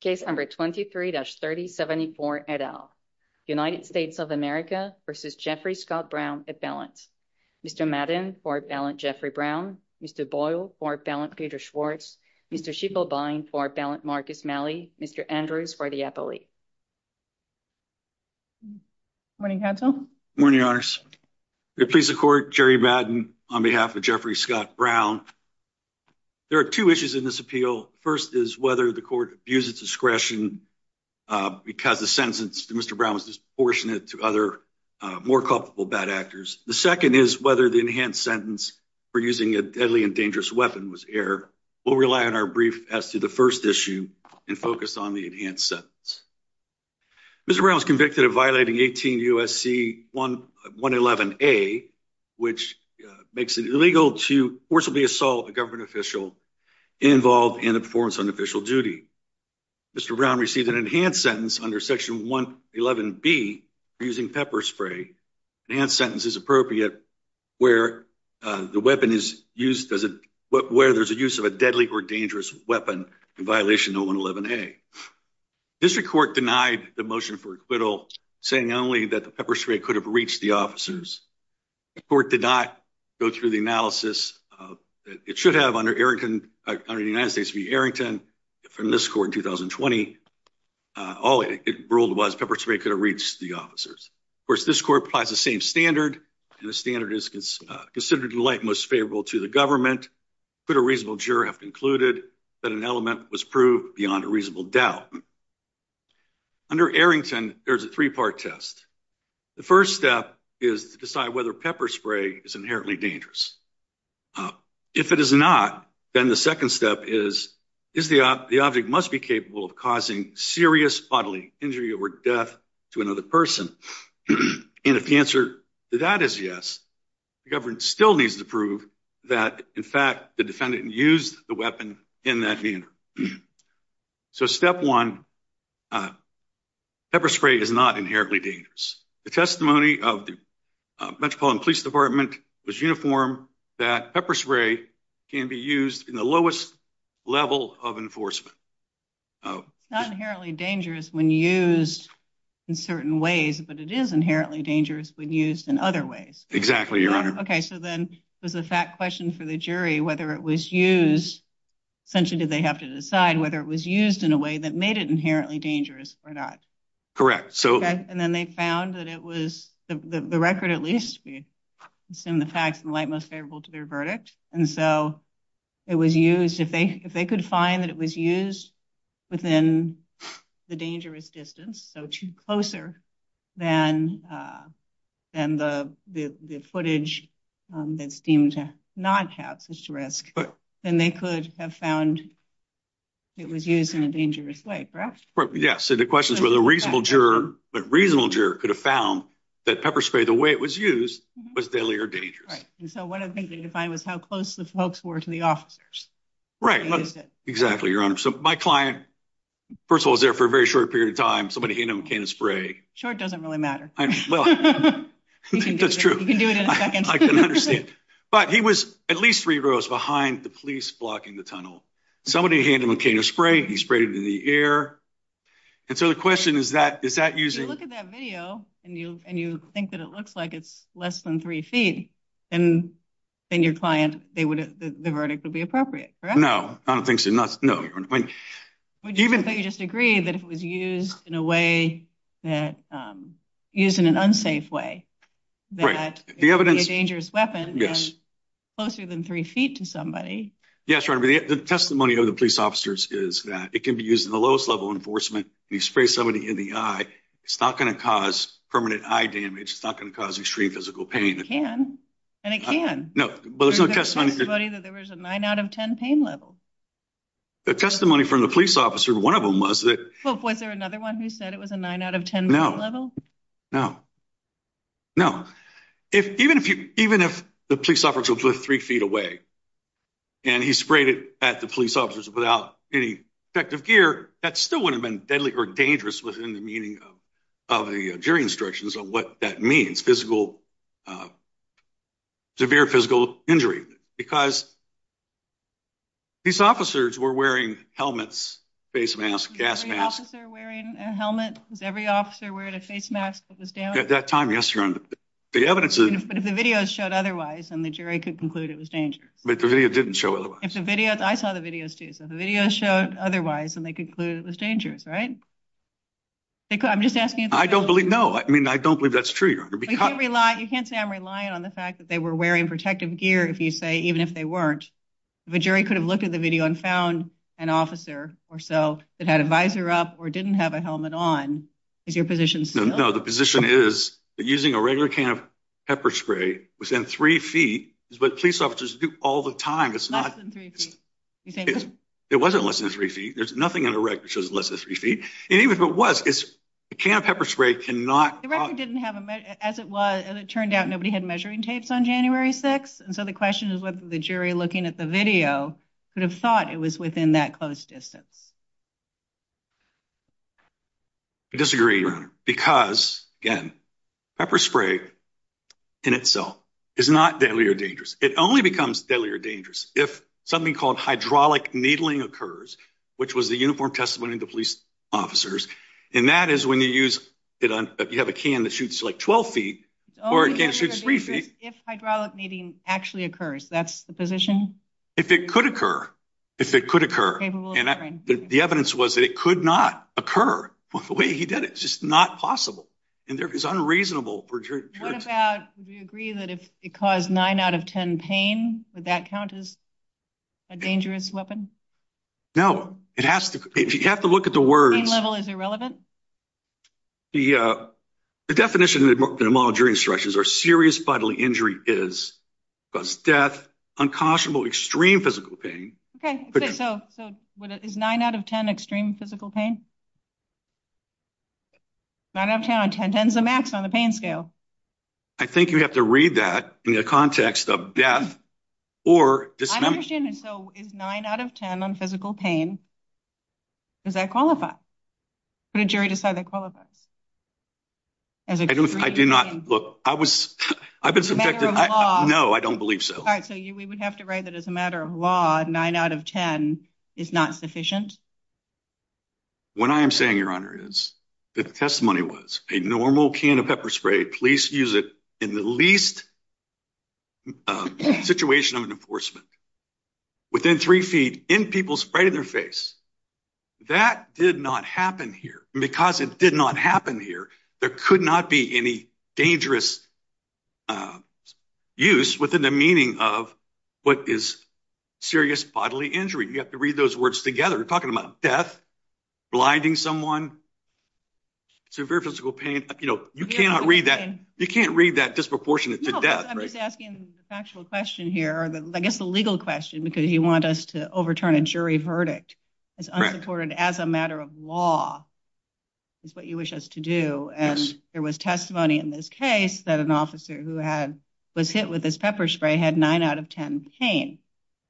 case number 23-3074 et al. United States of America v. Jeffrey Scott Brown at balance. Mr. Madden for a balance Jeffrey Brown, Mr. Boyle for a balance Peter Schwartz, Mr. Schieffelbein for a balance Marcus Malley, Mr. Andrews for the appellee. Good morning counsel. Good morning your honors. Your pleased to court Jerry Madden on behalf of Jeffrey Scott Brown. There are two issues in this appeal. First is whether the court views its discretion because the sentence to Mr. Brown was disproportionate to other more culpable bad actors. The second is whether the enhanced sentence for using a deadly and dangerous weapon was error. We'll rely on our brief as to the first issue and focused on the enhanced sentence. Mr. Brown was convicted of violating 18 U.S.C. 111a which makes it illegal to forcibly assault a government official involved in the performance of an official duty. Mr. Brown received an enhanced sentence under section 111b for using pepper spray. Enhanced sentence is appropriate where the weapon is used, where there's a use of a deadly or dangerous weapon in violation of 111a. District Court denied the motion for acquittal saying only that the pepper spray could have reached the officers. The court did not go through the analysis. It should have under Arrington, under the United States v. Arrington, from this court in 2020, all it ruled was pepper spray could have reached the officers. Of course this court applies the same standard and the standard is considered to the like most favorable to the government. Could a reasonable juror have concluded that an element was proved beyond a reasonable doubt? Under Arrington there's a three-part test. The first step is to decide whether pepper spray is inherently dangerous. If it is not, then the second step is the object must be capable of causing serious bodily injury or death to another person. And if the answer to that is yes, the government still needs to prove that in fact the defendant used the weapon in that meeting. So step one, pepper spray is not inherently dangerous. The testimony of the Metropolitan Police Department was uniform that pepper spray can be used in the lowest level of enforcement. Not inherently dangerous when used in certain ways, but it is inherently dangerous when used in other ways. Exactly, your honor. Okay, so then there's a fact question for the jury whether it was used, essentially did they have to decide whether it was used in a way that made it inherently dangerous or not? Correct. So then they found that it was, the record at least, assume the facts in the light most favorable to their verdict, and so it was used, if they could find that it was used within the dangerous distance, so too closer than the footage that seemed to not have risk, but then they could have found it was used in a dangerous way. Yes, so the question is whether a reasonable juror, a reasonable juror could have found that pepper spray, the way it was used, was deadly or dangerous. Right, and so what I think they defined was how close the folks were to the officers. Right, exactly, your honor. So my client, first of all, was there for a very short period of time, somebody he knew came to spray. Short doesn't really matter. That's true, but he was at least three rows behind the police blocking the tunnel. Somebody handed him a can of spray, he sprayed it in the air, and so the question is that, is that using... If you look at that video and you think that it looks like it's less than three feet, then your client, the verdict would be appropriate, correct? No, I don't think so, no. Would you even say you disagree that if it was used in a way that, used in an unsafe way, that it would be a dangerous weapon? Yes. Closer than three feet to somebody? Yes, your honor, but the testimony of the police officers is that it can be used in the lowest level enforcement. You spray somebody in the eye, it's not going to cause permanent eye damage, it's not going to cause extreme physical pain. It can, and it can. No, but there's no testimony... There was a 9 out of 10 pain level. The testimony from the police officer, one of them was that... Was there another one who said it was a 9 out of 10 pain level? No, no. No, even if the police officer was three feet away, and he sprayed it at the police officers without any effective gear, that still wouldn't have been deadly or dangerous within the meaning of the jury instructions of what that means, physical, severe physical injury, because these officers were wearing helmets, face masks, gas masks. Was every officer wearing a helmet? Was every officer wearing a face mask at the stand? At that time, yes, your honor. The evidence is... But if the videos showed otherwise, then the jury could conclude it was dangerous. But the video didn't show otherwise. If the video... I saw the videos too, so if the videos showed otherwise and they concluded it was dangerous, right? I'm just asking... I don't believe, no, I mean, I don't believe that's true, your honor, because... You can't say I'm relying on the fact that they were wearing protective gear, if you say, even if they weren't. If a jury could have looked at the video and found an officer or so that had a visor up or didn't have a visor, that's not true. The record says that using a regular can of pepper spray within three feet is what police officers do all the time. It's not... Less than three feet. It wasn't less than three feet. There's nothing in the record that says less than three feet. And even if it was, it's... A can of pepper spray cannot... The record didn't have a... As it was, as it turned out, nobody had measuring tapes on January 6th, and so the question is whether the jury, looking at the video, could have thought it was within that close distance. I disagree, your honor, because, again, pepper spray in itself is not deadly or dangerous. It only becomes deadly or dangerous if something called hydraulic needling occurs, which was the uniform testimony of the police officers, and that is when you use... If you have a can that shoots, like, 12 feet, or it can't shoot three feet. If hydraulic needling actually occurs, that's the position? If it could occur, if it could occur, and the evidence was that it could not occur the way he did it. It's just not possible, and it's unreasonable for a jury to try to... What about... Would you agree that if it caused nine out of ten pain, would that count as a dangerous weapon? No. It has to... If you have to look at the words... Pain level is irrelevant? The definition in the model jury instructions are serious bodily injury is... Caused death, unconscionable extreme physical pain... Okay, good. So... Is nine out of ten extreme physical pain? Nine out of ten, and ten tens the max on the pain scale. I think you'd have to read that in the context of death, or... I understand, and so, is nine out of ten on physical pain, does that qualify? Would a jury decide that qualifies? I do not... Look, I was... As a matter of law... No, I don't believe so. All right, so we would have to write that as a matter of law, nine out of ten, is not sufficient? What I am saying, Your Honor, is that the testimony was a normal can of pepper spray, police use it in the least situation of enforcement, within three feet, in people's... Right in their face. That did not happen here, and because it did not happen here, there could not be any dangerous use within the meaning of what is serious bodily injury. You have to read those words together. You're talking about death, blinding someone, severe physical pain, you know, you cannot read that... You can't read that disproportionate to death, right? No, I'm just asking the factual question here, or I guess the legal question, because you want us to overturn a jury verdict. Correct. As a matter of law, is what you wish us to do, and there was testimony in this case that an officer who had... Was hit with this pepper spray, had nine out of ten pain.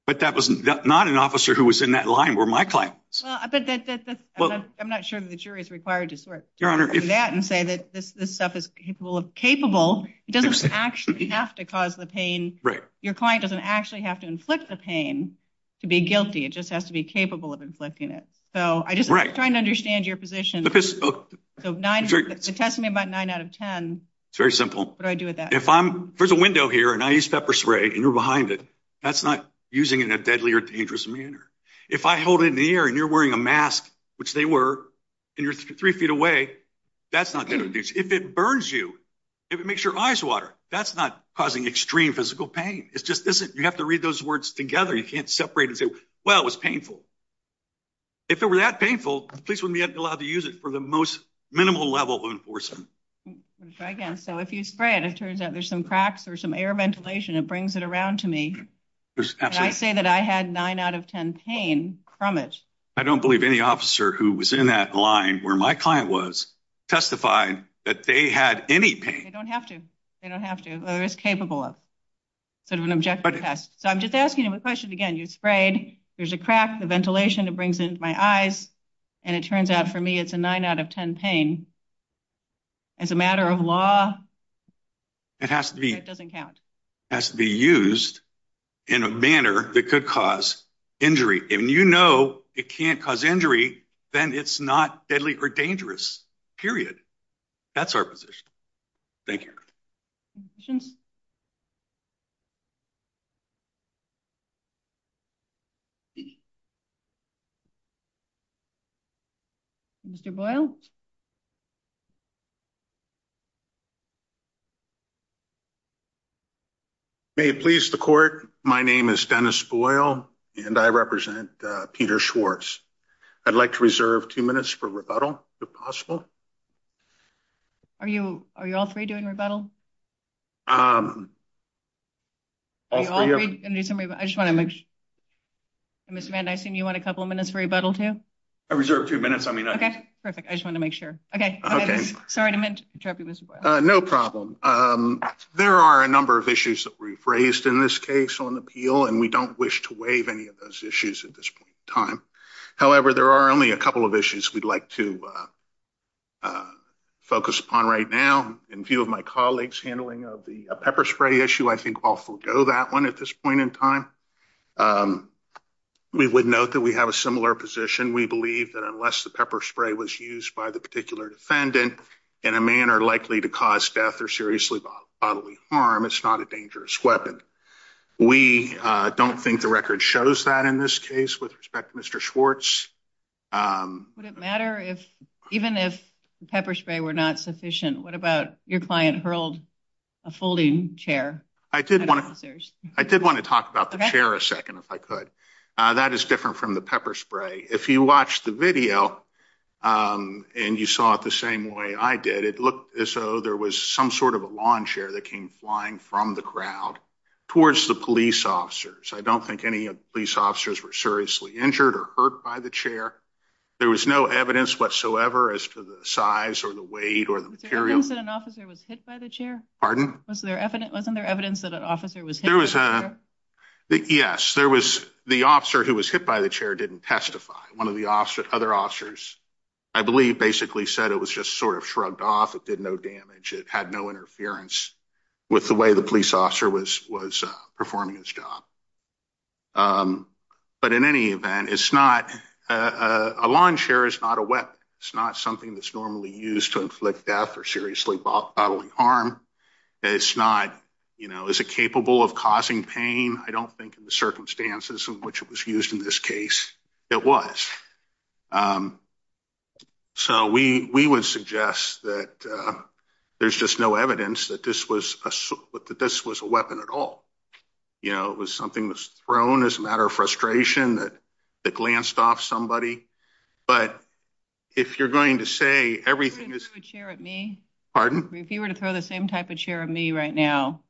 But that was not an officer who was in that line were my client. Well, I'm not sure if the jury is required to sort through that and say that this stuff is capable, it doesn't actually have to cause the pain. Your client doesn't actually have to inflict the pain to be guilty, it just has to be capable of inflicting it. So, I'm just trying to understand your position. The testimony about nine out of ten... It's very simple. What do I do with that? If I'm... There's a window here, and I use pepper spray, and you're behind it, that's not using it in a deadly or dangerous manner. If I hold it in the air, and you're wearing a mask, which they were, and you're three feet away, that's not going to... If it burns you, if it makes your eyes water, that's not causing extreme physical pain. It's just... You have to read those words together. You can't separate and say, well, it was painful. If it were that painful, the police wouldn't be allowed to use it for the most minimal level of enforcement. Let me try again. So, if you spray it, it turns out there's some cracks, there's some air ventilation, it brings it around to me, and I say that I had nine out of ten pain from it. I don't believe any officer who was in that line where my client was testified that they had any pain. They don't have to. They don't have to. It's capable of an objective test. So, I'm just asking them a question again. You sprayed, there's a crack, the ventilation, it brings it into my eyes, and it turns out for me it's a nine out of ten pain. As a matter of law, it doesn't count. It has to be used in a manner that could cause injury. If you know it can't cause injury, then it's not deadly or dangerous. Period. That's our position. Thank you. Questions? Mr. Boyle? May it please the court, my name is Dennis Boyle, and I represent Peter Schwartz. I'd like to reserve two minutes for rebuttal, if possible. Are you all three doing rebuttal? Mr. Van Dysen, do you want a couple of minutes for rebuttal, too? I reserve a few minutes. Perfect. I just wanted to make sure. No problem. There are a number of issues that we've raised in this case on the appeal, and we don't wish to waive any of those issues at this point in time. However, there are only a couple of issues we'd like to focus upon right now. In view of my colleagues' handling of the pepper spray issue, I think I'll forego that one at this point in time. We would note that we have a similar position. We believe that unless the pepper spray was used by the particular defendant in a manner likely to cause death or seriously bodily harm, it's not a dangerous weapon. We don't think the record shows that in this case, with respect to Mr. Schwartz. Would it matter if, even if the pepper spray were not sufficient, what about your client hurled a folding chair at officers? I did want to talk about the chair a second, if I could. That is different from the pepper spray. If you watched the video, and you saw it the same way I did, it looked as though there was some sort of a lawn chair that came flying from the crowd towards the police officers. I don't think any of the police officers were seriously injured or hurt by the chair. There was no evidence whatsoever as to the size or the weight or the material. Was there evidence that an officer was hit by the chair? Pardon? Wasn't there evidence that an officer was hit by the chair? Yes, the officer who was hit by the chair didn't testify. One of the other officers, I believe, basically said it was just sort of shrugged off. It did no damage. It had no interference with the way the police officer was performing his job. But in any event, a lawn chair is not a weapon. It's not something that's normally used to inflict death or seriously bodily harm. It's not, you know, is it capable of causing pain? I don't think in the circumstances in which it was used in this case, it was. So we would suggest that there's just no evidence that this was a weapon at all. You know, it was something that was thrown as a matter of frustration, that glanced off somebody. But if you're going to say everything is... You wouldn't throw a chair at me? Pardon? If you were to throw the same type of chair at me right now,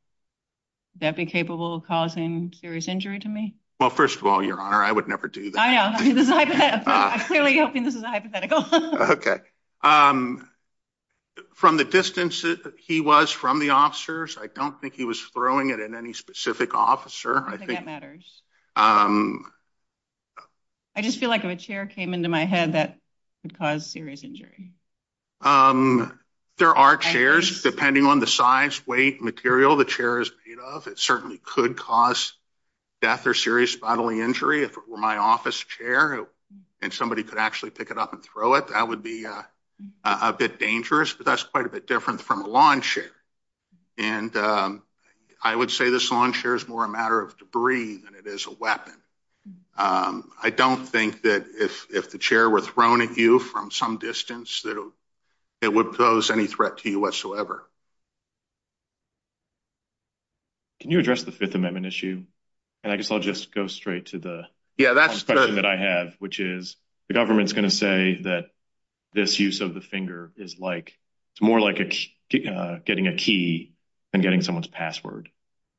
would that be capable of causing serious injury to me? Well, first of all, Your Honor, I would never do that. I know. I'm clearly guessing this is hypothetical. Okay. From the distance he was from the officers, I don't think he was throwing it at any specific officer. I think that matters. I just feel like if a chair came into my head, that would cause serious injury. There are chairs. Depending on the size, weight, material the chair is made of, it certainly could cause death or serious bodily injury. If it were my office chair and somebody could actually pick it up and throw it, that would be a bit dangerous. But that's quite a bit different from a lawn chair. And I would say this lawn chair is more a matter of debris than it is a weapon. I don't think that if the chair were thrown at you from some distance, it would pose any threat to you whatsoever. Can you address the Fifth Amendment issue? I guess I'll just go straight to the question that I have, which is the government is going to say that this use of the finger is more like getting a key than getting someone's password.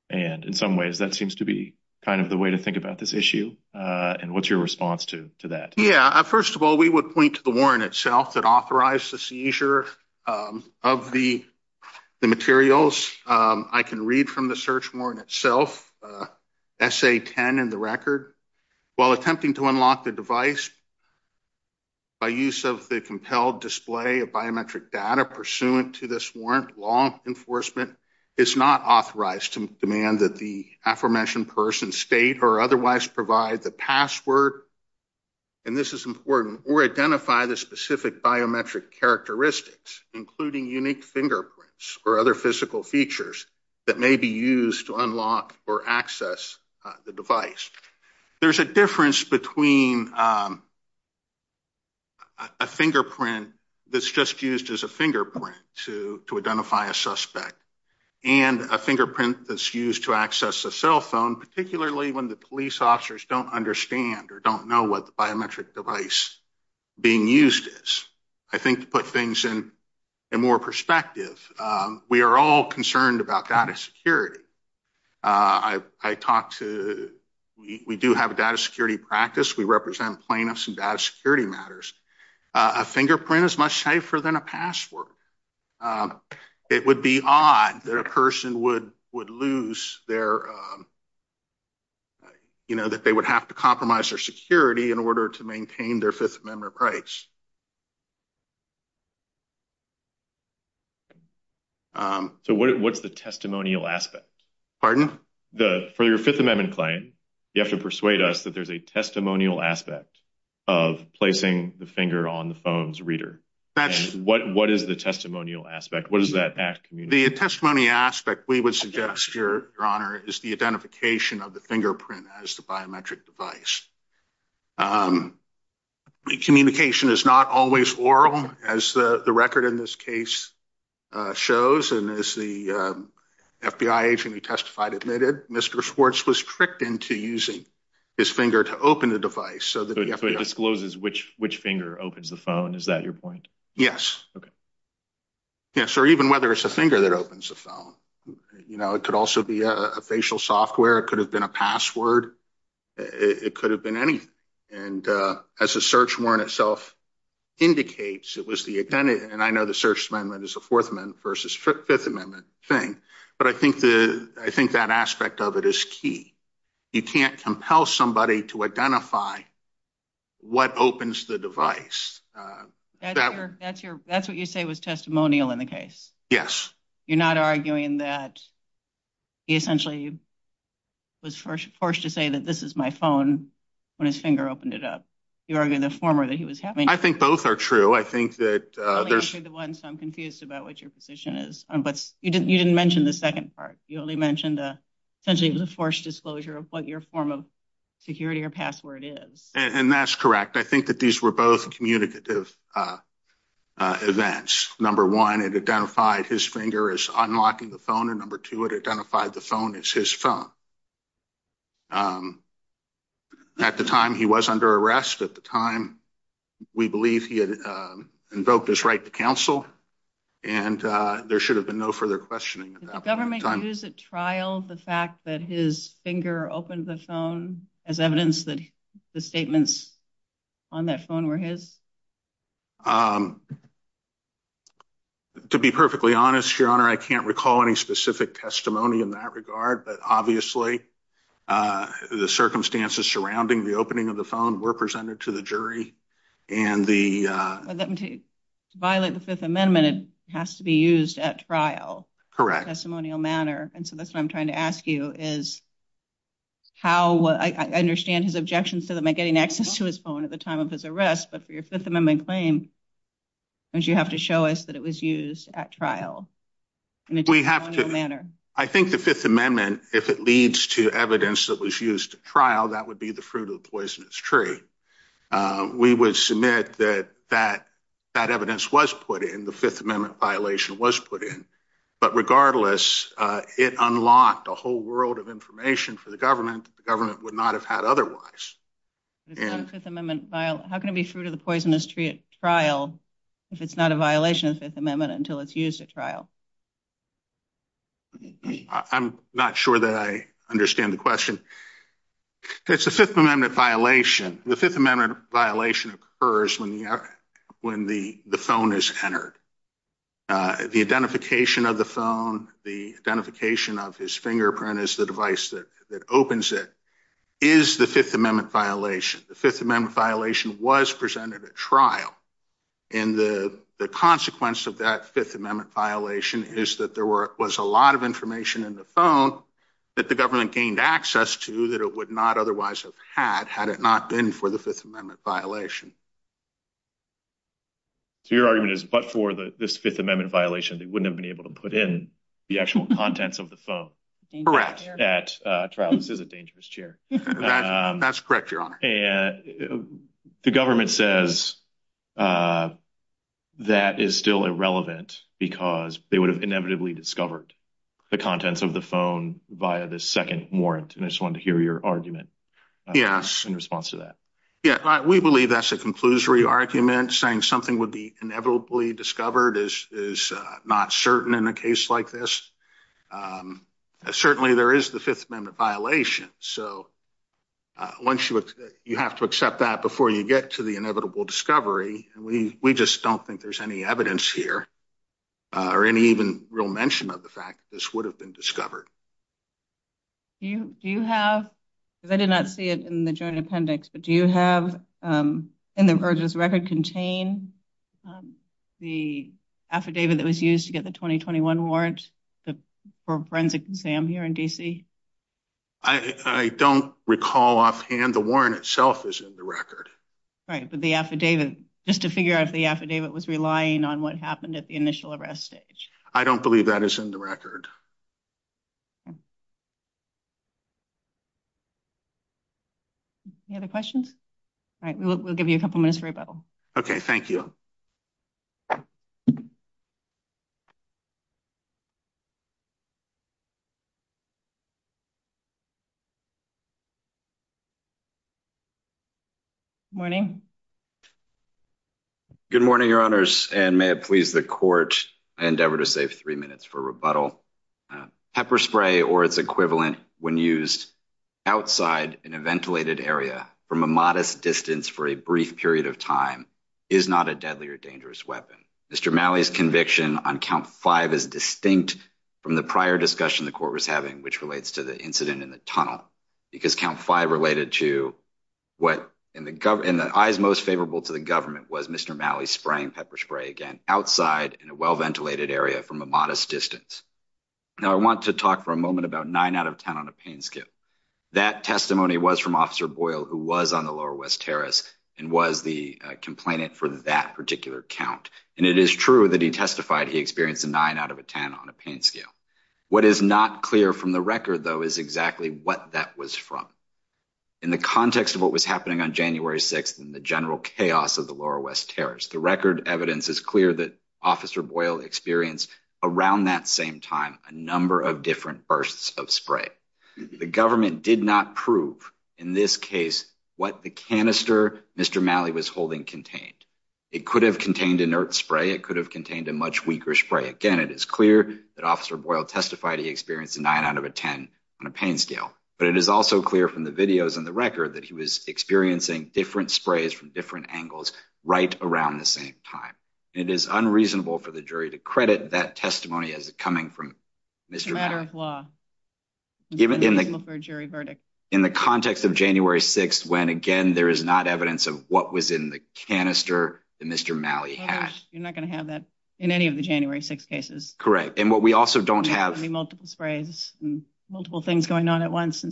And in some ways, that seems to be kind of the way to think about this issue. And what's your response to that? First of all, we would point to the warrant itself that authorized the seizure of the materials. I can read from the search warrant itself, Essay 10 in the record. While attempting to unlock the device by use of the compelled display of biometric data pursuant to this warrant, law enforcement is not authorized to demand that the aforementioned person state or otherwise provide the password. And this is important. Or identify the specific biometric characteristics, including unique fingerprints or other physical features that may be used to unlock or access the device. There's a difference between a fingerprint that's just used as a fingerprint to identify a suspect and a fingerprint that's used to access a cell phone, particularly when the police officers don't understand or don't know what the biometric device being used is. I think to put things in more perspective, we are all concerned about data security. I talked to, we do have a data security practice. We represent plaintiffs in data security matters. A fingerprint is much safer than a password. It would be odd that a person would lose their, you know, that they would have to compromise their security in order to maintain their Fifth Amendment rights. So, what's the testimonial aspect? For your Fifth Amendment claim, you have to persuade us that there's a testimonial aspect of placing the finger on the phone's reader. What is the testimonial aspect? What does that have to communicate? The testimony aspect, we would suggest, Your Honor, is the identification of the fingerprint as the biometric device. Communication is not always oral, as the record in this case shows, and as the FBI agent who testified admitted. Mr. Schwartz was tricked into using his finger to open the device. So, it discloses which finger opens the phone. Is that your point? Yes. Yes, or even whether it's a finger that opens the phone. You know, it could also be a facial software. It could have been a password. It could have been anything. And as the search warrant itself indicates, it was the identity. And I know the search amendment is a Fourth Amendment versus Fifth Amendment thing. But I think that aspect of it is key. You can't compel somebody to identify what opens the device. That's what you say was testimonial in the case? Yes. You're not arguing that he essentially was forced to say that this is my phone when his finger opened it up. You're arguing the former, that he was having… I think both are true. I'm confused about what your position is. But you didn't mention the second part. You only mentioned essentially the forced disclosure of what your form of security or password is. And that's correct. I think that these were both communicative events. Number one, it identified his finger as unlocking the phone. And number two, it identified the phone as his phone. At the time, he was under arrest. At the time, we believe he had invoked his right to counsel. And there should have been no further questioning. Did the government use at trial the fact that his finger opened the phone as evidence that the statements on that phone were his? To be perfectly honest, Your Honor, I can't recall any specific testimony in that regard. But obviously, the circumstances surrounding the opening of the phone were presented to the jury. And the… Let me tell you, to violate the Fifth Amendment, it has to be used at trial. Correct. In a testimonial manner. And so that's what I'm trying to ask you is how… How… I understand his objections to them in getting access to his phone at the time of his arrest. But for your Fifth Amendment claim, don't you have to show us that it was used at trial in a testimonial manner? I think the Fifth Amendment, if it leads to evidence that was used at trial, that would be the fruit of the poisonous tree. We would submit that that evidence was put in. The Fifth Amendment violation was put in. But regardless, it unlocked a whole world of information for the government that the government would not have had otherwise. How can it be the fruit of the poisonous tree at trial if it's not a violation of the Fifth Amendment until it's used at trial? I'm not sure that I understand the question. It's a Fifth Amendment violation. The Fifth Amendment violation occurs when the phone is entered. The identification of the phone, the identification of his fingerprint as the device that opens it, is the Fifth Amendment violation. The Fifth Amendment violation was presented at trial. And the consequence of that Fifth Amendment violation is that there was a lot of information in the phone that the government gained access to that it would not otherwise have had, had it not been for the Fifth Amendment violation. So your argument is, but for this Fifth Amendment violation, they wouldn't have been able to put in the actual contents of the phone. At trial. This is a dangerous chair. That's correct, Your Honor. The government says that is still irrelevant because they would have inevitably discovered the contents of the phone via the second warrant. And I just wanted to hear your argument in response to that. Yeah, we believe that's a conclusory argument. Saying something would be inevitably discovered is not certain in a case like this. Certainly, there is the Fifth Amendment violation. So, you have to accept that before you get to the inevitable discovery. We just don't think there's any evidence here or any even real mention of the fact that this would have been discovered. Do you have, because I did not see it in the joint appendix, but do you have, or does the record contain the affidavit that was used to get the 2021 warrant for a forensic exam here in D.C.? I don't recall offhand. The warrant itself is in the record. Right, but the affidavit, just to figure out if the affidavit was relying on what happened at the initial arrest stage. I don't believe that is in the record. Any other questions? All right, we'll give you a couple minutes for rebuttal. Okay, thank you. Good morning. Good morning, your honors, and may it please the court endeavor to save three minutes for rebuttal. Pepper spray or its equivalent when used outside in a ventilated area from a modest distance for a brief period of time is not a deadly or dangerous weapon. Mr. Malley's conviction on count five is distinct from the prior discussion the court was having, which relates to the incident in the tunnel. Because count five related to what in the eyes most favorable to the government was Mr. Malley spraying pepper spray again outside in a well-ventilated area from a modest distance. Now, I want to talk for a moment about nine out of ten on a pain scale. That testimony was from Officer Boyle, who was on the Lower West Terrace and was the complainant for that particular count. And it is true that he testified he experienced a nine out of a ten on a pain scale. What is not clear from the record, though, is exactly what that was from. In the context of what was happening on January 6th and the general chaos of the Lower West Terrace, the record evidence is clear that Officer Boyle experienced around that same time a number of different bursts of spray. The government did not prove in this case what the canister Mr. Malley was holding contained. It could have contained inert spray. It could have contained a much weaker spray. Again, it is clear that Officer Boyle testified he experienced a nine out of a ten on a pain scale. But it is also clear from the videos and the record that he was experiencing different sprays from different angles right around the same time. It is unreasonable for the jury to credit that testimony as it coming from Mr. Malley. It's a matter of law. In the context of January 6th when, again, there is not evidence of what was in the canister that Mr. Malley had. You're not going to have that in any of the January 6th cases. And what we also don't have. Multiple sprays and multiple things going on at once.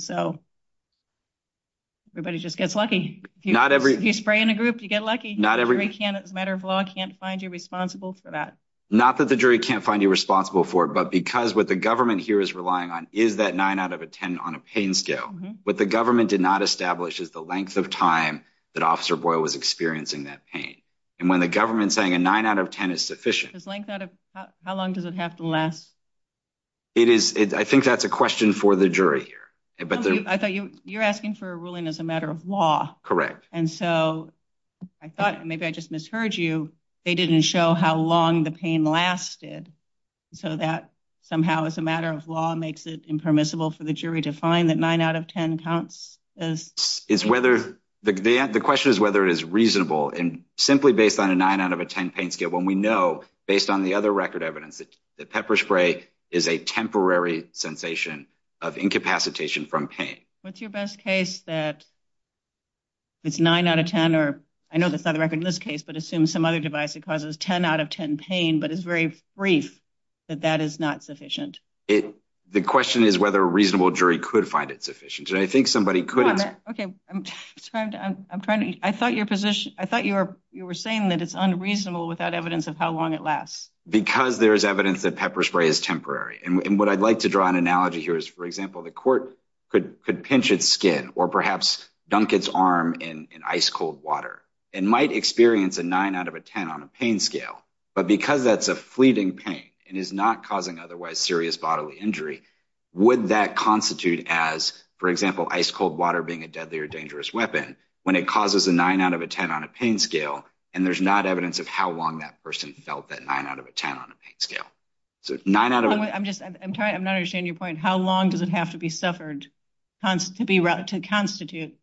Everybody just gets lucky. If you spray in a group, you get lucky. It's a matter of law. The jury can't find you responsible for that. Not that the jury can't find you responsible for it. But because what the government here is relying on is that nine out of a ten on a pain scale. What the government did not establish is the length of time that Officer Boyle was experiencing that pain. And when the government is saying a nine out of ten is sufficient. How long does it have to last? I think that's a question for the jury here. You're asking for a ruling as a matter of law. And so I thought, maybe I just misheard you. They didn't show how long the pain lasted. So that somehow as a matter of law makes it impermissible for the jury to find that nine out of ten counts. The question is whether it is reasonable. And simply based on a nine out of a ten pain scale. When we know, based on the other record evidence, that pepper spray is a temporary sensation of incapacitation from pain. What's your best case that it's nine out of ten? I know that's not a record in this case. But assume some other device that causes ten out of ten pain. But it's very brief that that is not sufficient. The question is whether a reasonable jury could find it sufficient. I think somebody could. I thought you were saying that it's unreasonable without evidence of how long it lasts. Because there's evidence that pepper spray is temporary. And what I'd like to draw an analogy here is, for example, the court could pinch its skin. Or perhaps dunk its arm in ice cold water. And might experience a nine out of a ten on a pain scale. But because that's a fleeting pain and is not causing otherwise serious bodily injury. Would that constitute as, for example, ice cold water being a deadly or dangerous weapon. When it causes a nine out of a ten on a pain scale. And there's not evidence of how long that person felt that nine out of a ten on a pain scale. I'm sorry, I'm not understanding your point. How long does it have to be suffered to constitute,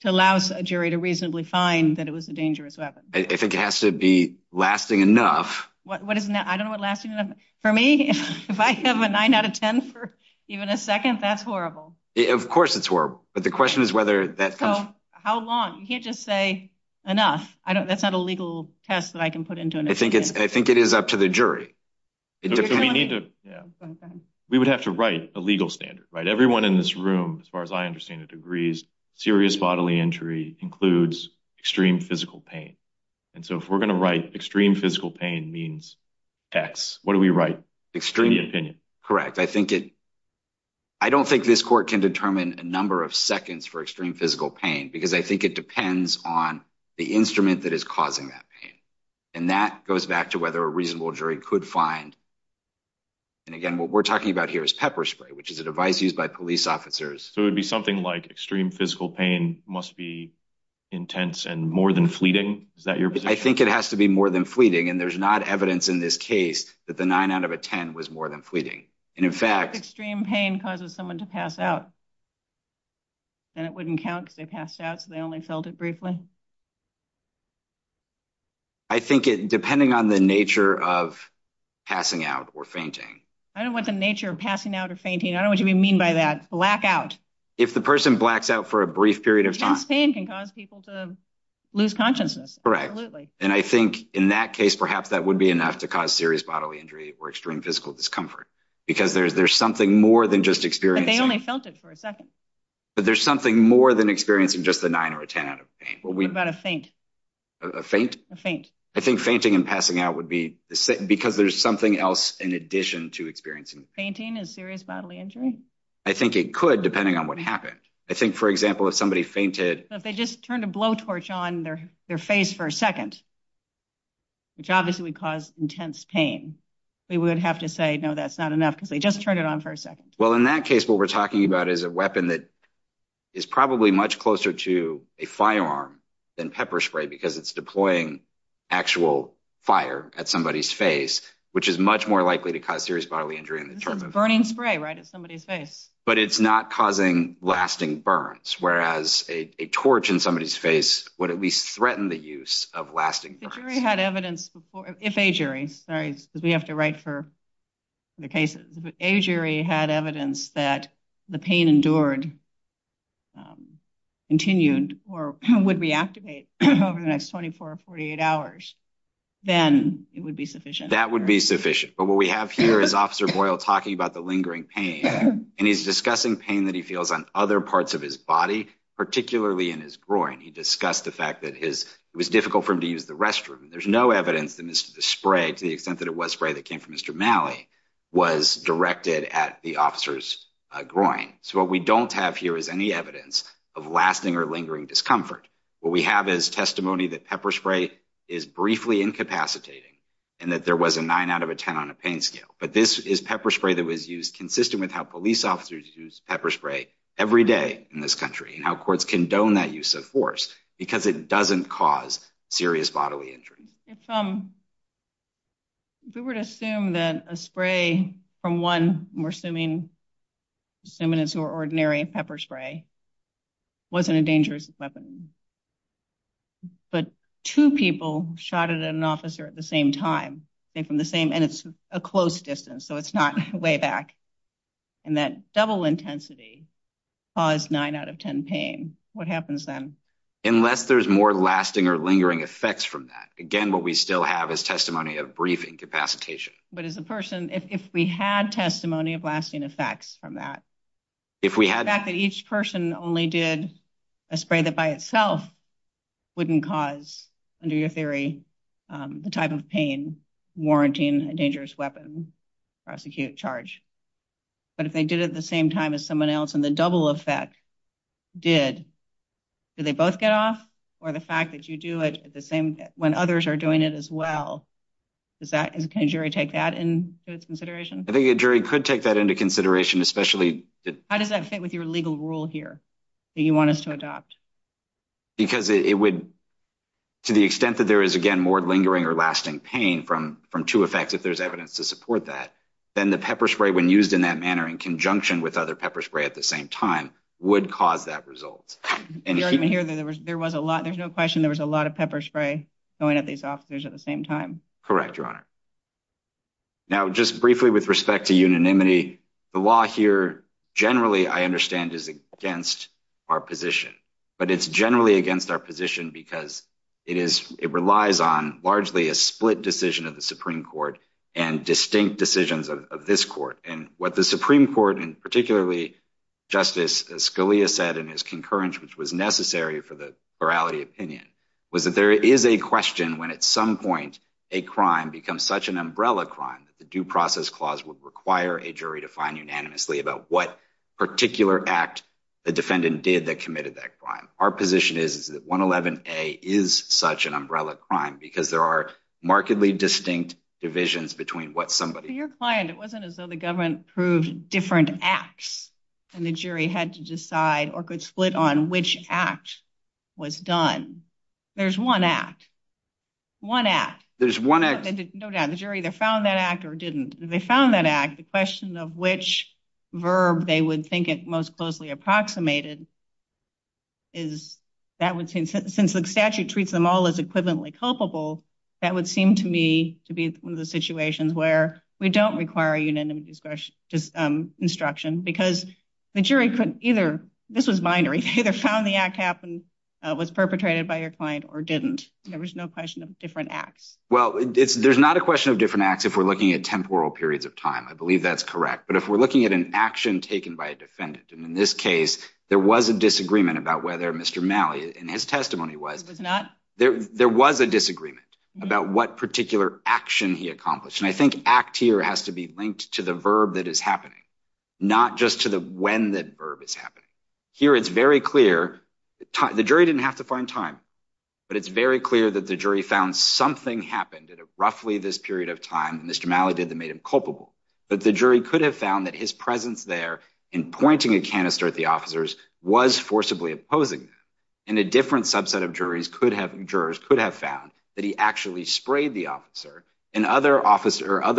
to allow a jury to reasonably find that it was a dangerous weapon? I think it has to be lasting enough. I don't know what lasting enough is. For me, if I have a nine out of ten for even a second, that's horrible. Of course it's horrible. So how long? You can't just say enough. That's not a legal test that I can put into an experiment. I think it is up to the jury. We would have to write a legal standard. Everyone in this room, as far as I understand it, agrees serious bodily injury includes extreme physical pain. And so if we're going to write extreme physical pain means X, what do we write? Correct. I don't think this court can determine a number of seconds for extreme physical pain. Because I think it depends on the instrument that is causing that pain. And that goes back to whether a reasonable jury could find. And again, what we're talking about here is pepper spray, which is a device used by police officers. So it would be something like extreme physical pain must be intense and more than fleeting? I think it has to be more than fleeting. And there's not evidence in this case that the nine out of ten was more than fleeting. And in fact, extreme pain causes someone to pass out. And it wouldn't count because they passed out, so they only felt it briefly? I think depending on the nature of passing out or fainting. I don't want the nature of passing out or fainting. I don't want you to be mean by that. Blackout. If the person blacks out for a brief period of time. Intense pain can cause people to lose consciousness. Correct. And I think in that case, perhaps that would be enough to cause serious bodily injury or extreme physical discomfort. Because there's something more than just experience. But they only felt it for a second. But there's something more than experiencing just a nine or a ten out of ten. What about a faint? A faint? A faint. I think fainting and passing out would be the same because there's something else in addition to experiencing. Fainting is serious bodily injury? I think it could, depending on what happened. I think, for example, if somebody fainted. So if they just turned a blowtorch on their face for a second, which obviously would cause intense pain. We would have to say, no, that's not enough because they just turned it on for a second. Well, in that case, what we're talking about is a weapon that is probably much closer to a firearm than pepper spray. Because it's deploying actual fire at somebody's face. Which is much more likely to cause serious bodily injury. It's a burning spray, right, at somebody's face. But it's not causing lasting burns. Whereas a torch in somebody's face would at least threaten the use of lasting burns. If a jury had evidence that the pain endured, continued, or would reactivate over the next 24 or 48 hours, then it would be sufficient. That would be sufficient. But what we have here is Officer Boyle talking about the lingering pain. And he's discussing pain that he feels on other parts of his body, particularly in his groin. He discussed the fact that it was difficult for him to use the restroom. There's no evidence that the spray, to the extent that it was spray that came from Mr. Malley, was directed at the officer's groin. So what we don't have here is any evidence of lasting or lingering discomfort. What we have is testimony that pepper spray is briefly incapacitating. And that there was a 9 out of a 10 on a pain scale. But this is pepper spray that was used consistent with how police officers use pepper spray every day in this country. And how courts condone that use of force. Because it doesn't cause serious bodily injury. If we were to assume that a spray from one, we're assuming it's an ordinary pepper spray, wasn't a dangerous weapon. But two people shot at an officer at the same time, and it's a close distance, so it's not way back. And that double intensity caused 9 out of 10 pain. What happens then? Unless there's more lasting or lingering effects from that. Again, what we still have is testimony of brief incapacitation. But as a person, if we had testimony of lasting effects from that. The fact that each person only did a spray that by itself wouldn't cause, under your theory, the type of pain warranting a dangerous weapon, prosecute, charge. But if they did it at the same time as someone else, and the double effect did, did they both get off? Or the fact that you do it at the same, when others are doing it as well. Does that, can a jury take that into consideration? I think a jury could take that into consideration, especially. How does that fit with your legal rule here? That you want us to adopt? Because it would, to the extent that there is, again, more lingering or lasting pain from two effects, if there's evidence to support that. Then the pepper spray, when used in that manner in conjunction with other pepper spray at the same time, would cause that result. There was a lot, there's no question, there was a lot of pepper spray going at these officers at the same time. Correct, Your Honor. Now, just briefly with respect to unanimity, the law here, generally, I understand is against our position. But it's generally against our position because it is, it relies on largely a split decision of the Supreme Court and distinct decisions of this court. And what the Supreme Court, and particularly Justice Scalia said in his concurrence, which was necessary for the morality opinion, was that there is a question when, at some point, a crime becomes such an umbrella crime, that the due process clause would require a jury to find unanimously about what particular act the defendant did that committed that crime. Our position is that 111A is such an umbrella crime because there are markedly distinct divisions between what somebody- Your client, it wasn't as though the government approved different acts. And the jury had to decide, or could split on, which act was done. There's one act. One act. There's one act. No doubt. The jury either found that act or didn't. If they found that act, the question of which verb they would think it most closely approximated is- Since the statute treats them all as equivalently culpable, that would seem to me to be one of those situations where we don't require a unanimous instruction because the jury could either- This is binary. Either found the act happened, was perpetrated by your client, or didn't. There was no question of different acts. Well, there's not a question of different acts if we're looking at temporal periods of time. I believe that's correct. But if we're looking at an action taken by a defendant, and in this case, there was a disagreement about whether Mr. Malley, and his testimony was- There was a disagreement about what particular action he accomplished. And I think act here has to be linked to the verb that is happening, not just to the when that verb is happening. Here, it's very clear. The jury didn't have to find time. But it's very clear that the jury found something happened at roughly this period of time that Mr. Malley did that made him culpable. But the jury could have found that his presence there in pointing a canister at the officers was forcibly opposing that. And a different subset of jurors could have found that he actually sprayed the officer. And other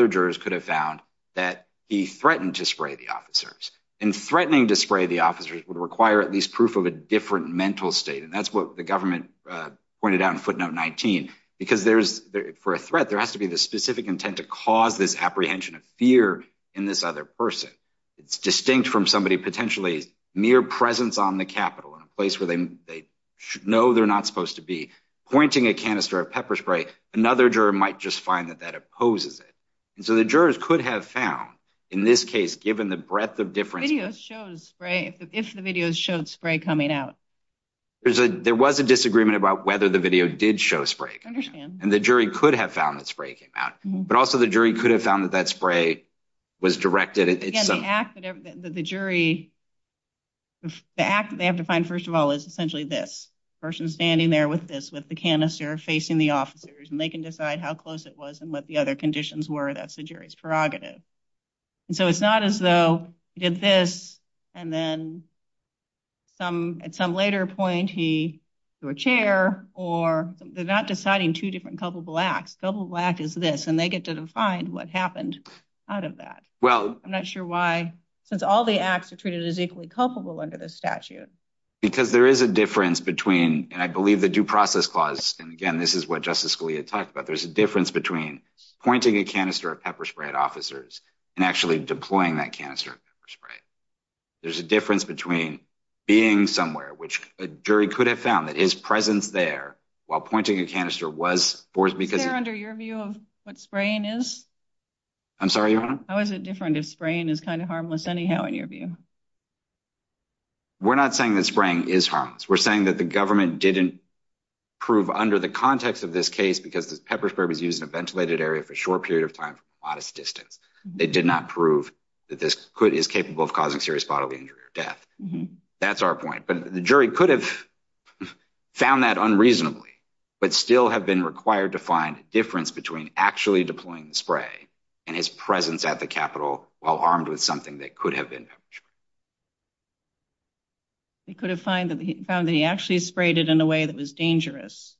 jurors could have found that he threatened to spray the officers. And threatening to spray the officers would require at least proof of a different mental state. And that's what the government pointed out in footnote 19. Because for a threat, there has to be the specific intent to cause this apprehension of fear in this other person. It's distinct from somebody potentially mere presence on the Capitol, in a place where they know they're not supposed to be, pointing a canister of pepper spray. Another juror might just find that that opposes it. And so the jurors could have found, in this case, given the breadth of different- If the video showed spray coming out. There was a disagreement about whether the video did show spray. And the jury could have found that spray came out. But also the jury could have found that that spray was directed at- The act that they have to find, first of all, is essentially this. A person standing there with this, with the canister, facing the officers. And they can decide how close it was and what the other conditions were. That's the jury's prerogative. And so it's not as though he did this, and then at some later point, he threw a chair, or- They're not deciding two different culpable acts. The culpable act is this. And they get to define what happened out of that. I'm not sure why. Since all the acts are treated as equally culpable under this statute. Because there is a difference between- And I believe the due process clause- And again, this is what Justice Scalia talked about. There's a difference between pointing a canister of pepper spray at officers, and actually deploying that canister of pepper spray. There's a difference between being somewhere, which a jury could have found that his presence there, while pointing a canister was forced because- Senator, under your view of what spraying is? I'm sorry, Your Honor? How is it different if spraying is kind of harmless anyhow, in your view? We're not saying that spraying is harmless. We're saying that the government didn't prove under the context of this case, because the pepper spray was used in a ventilated area for a short period of time from a modest distance. They did not prove that this is capable of causing serious bodily injury or death. That's our point. But the jury could have found that unreasonably, but still have been required to find a difference between actually deploying the spray, and his presence at the Capitol, while armed with something that could have been pepper spray. They could have found that he actually sprayed it in a way that was dangerous.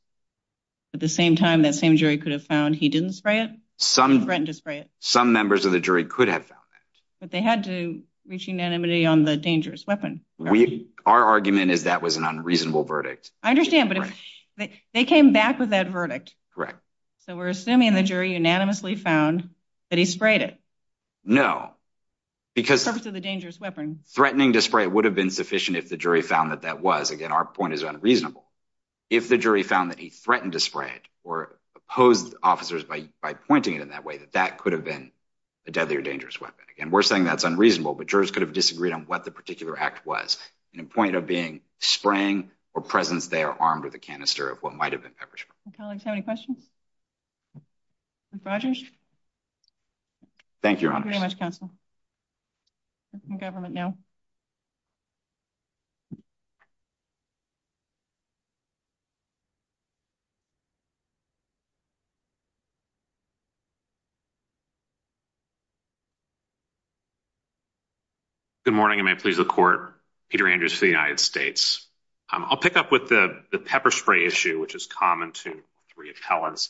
At the same time, that same jury could have found he didn't spray it? Some- Threatened to spray it. Some members of the jury could have found it. But they had to reach unanimity on the dangerous weapon. Our argument is that was an unreasonable verdict. I understand, but they came back with that verdict. Correct. So we're assuming the jury unanimously found that he sprayed it. No. Because- For the purpose of the dangerous weapon. Threatening to spray it would have been sufficient if the jury found that that was. Again, our point is unreasonable. If the jury found that he threatened to spray it, or opposed officers by pointing it in that way, that that could have been a deadly or dangerous weapon. And we're saying that's unreasonable, but jurors could have disagreed on what the particular act was. The point of being spraying, or presence there armed with a canister of what might have been pepper spray. Colleagues have any questions? Mr. Rogers? Thank you, Your Honors. Thank you very much, Counsel. We're in government now. Good morning. May it please the Court. Peter Andrews for the United States. I'll pick up with the pepper spray issue, which is common to three appellants.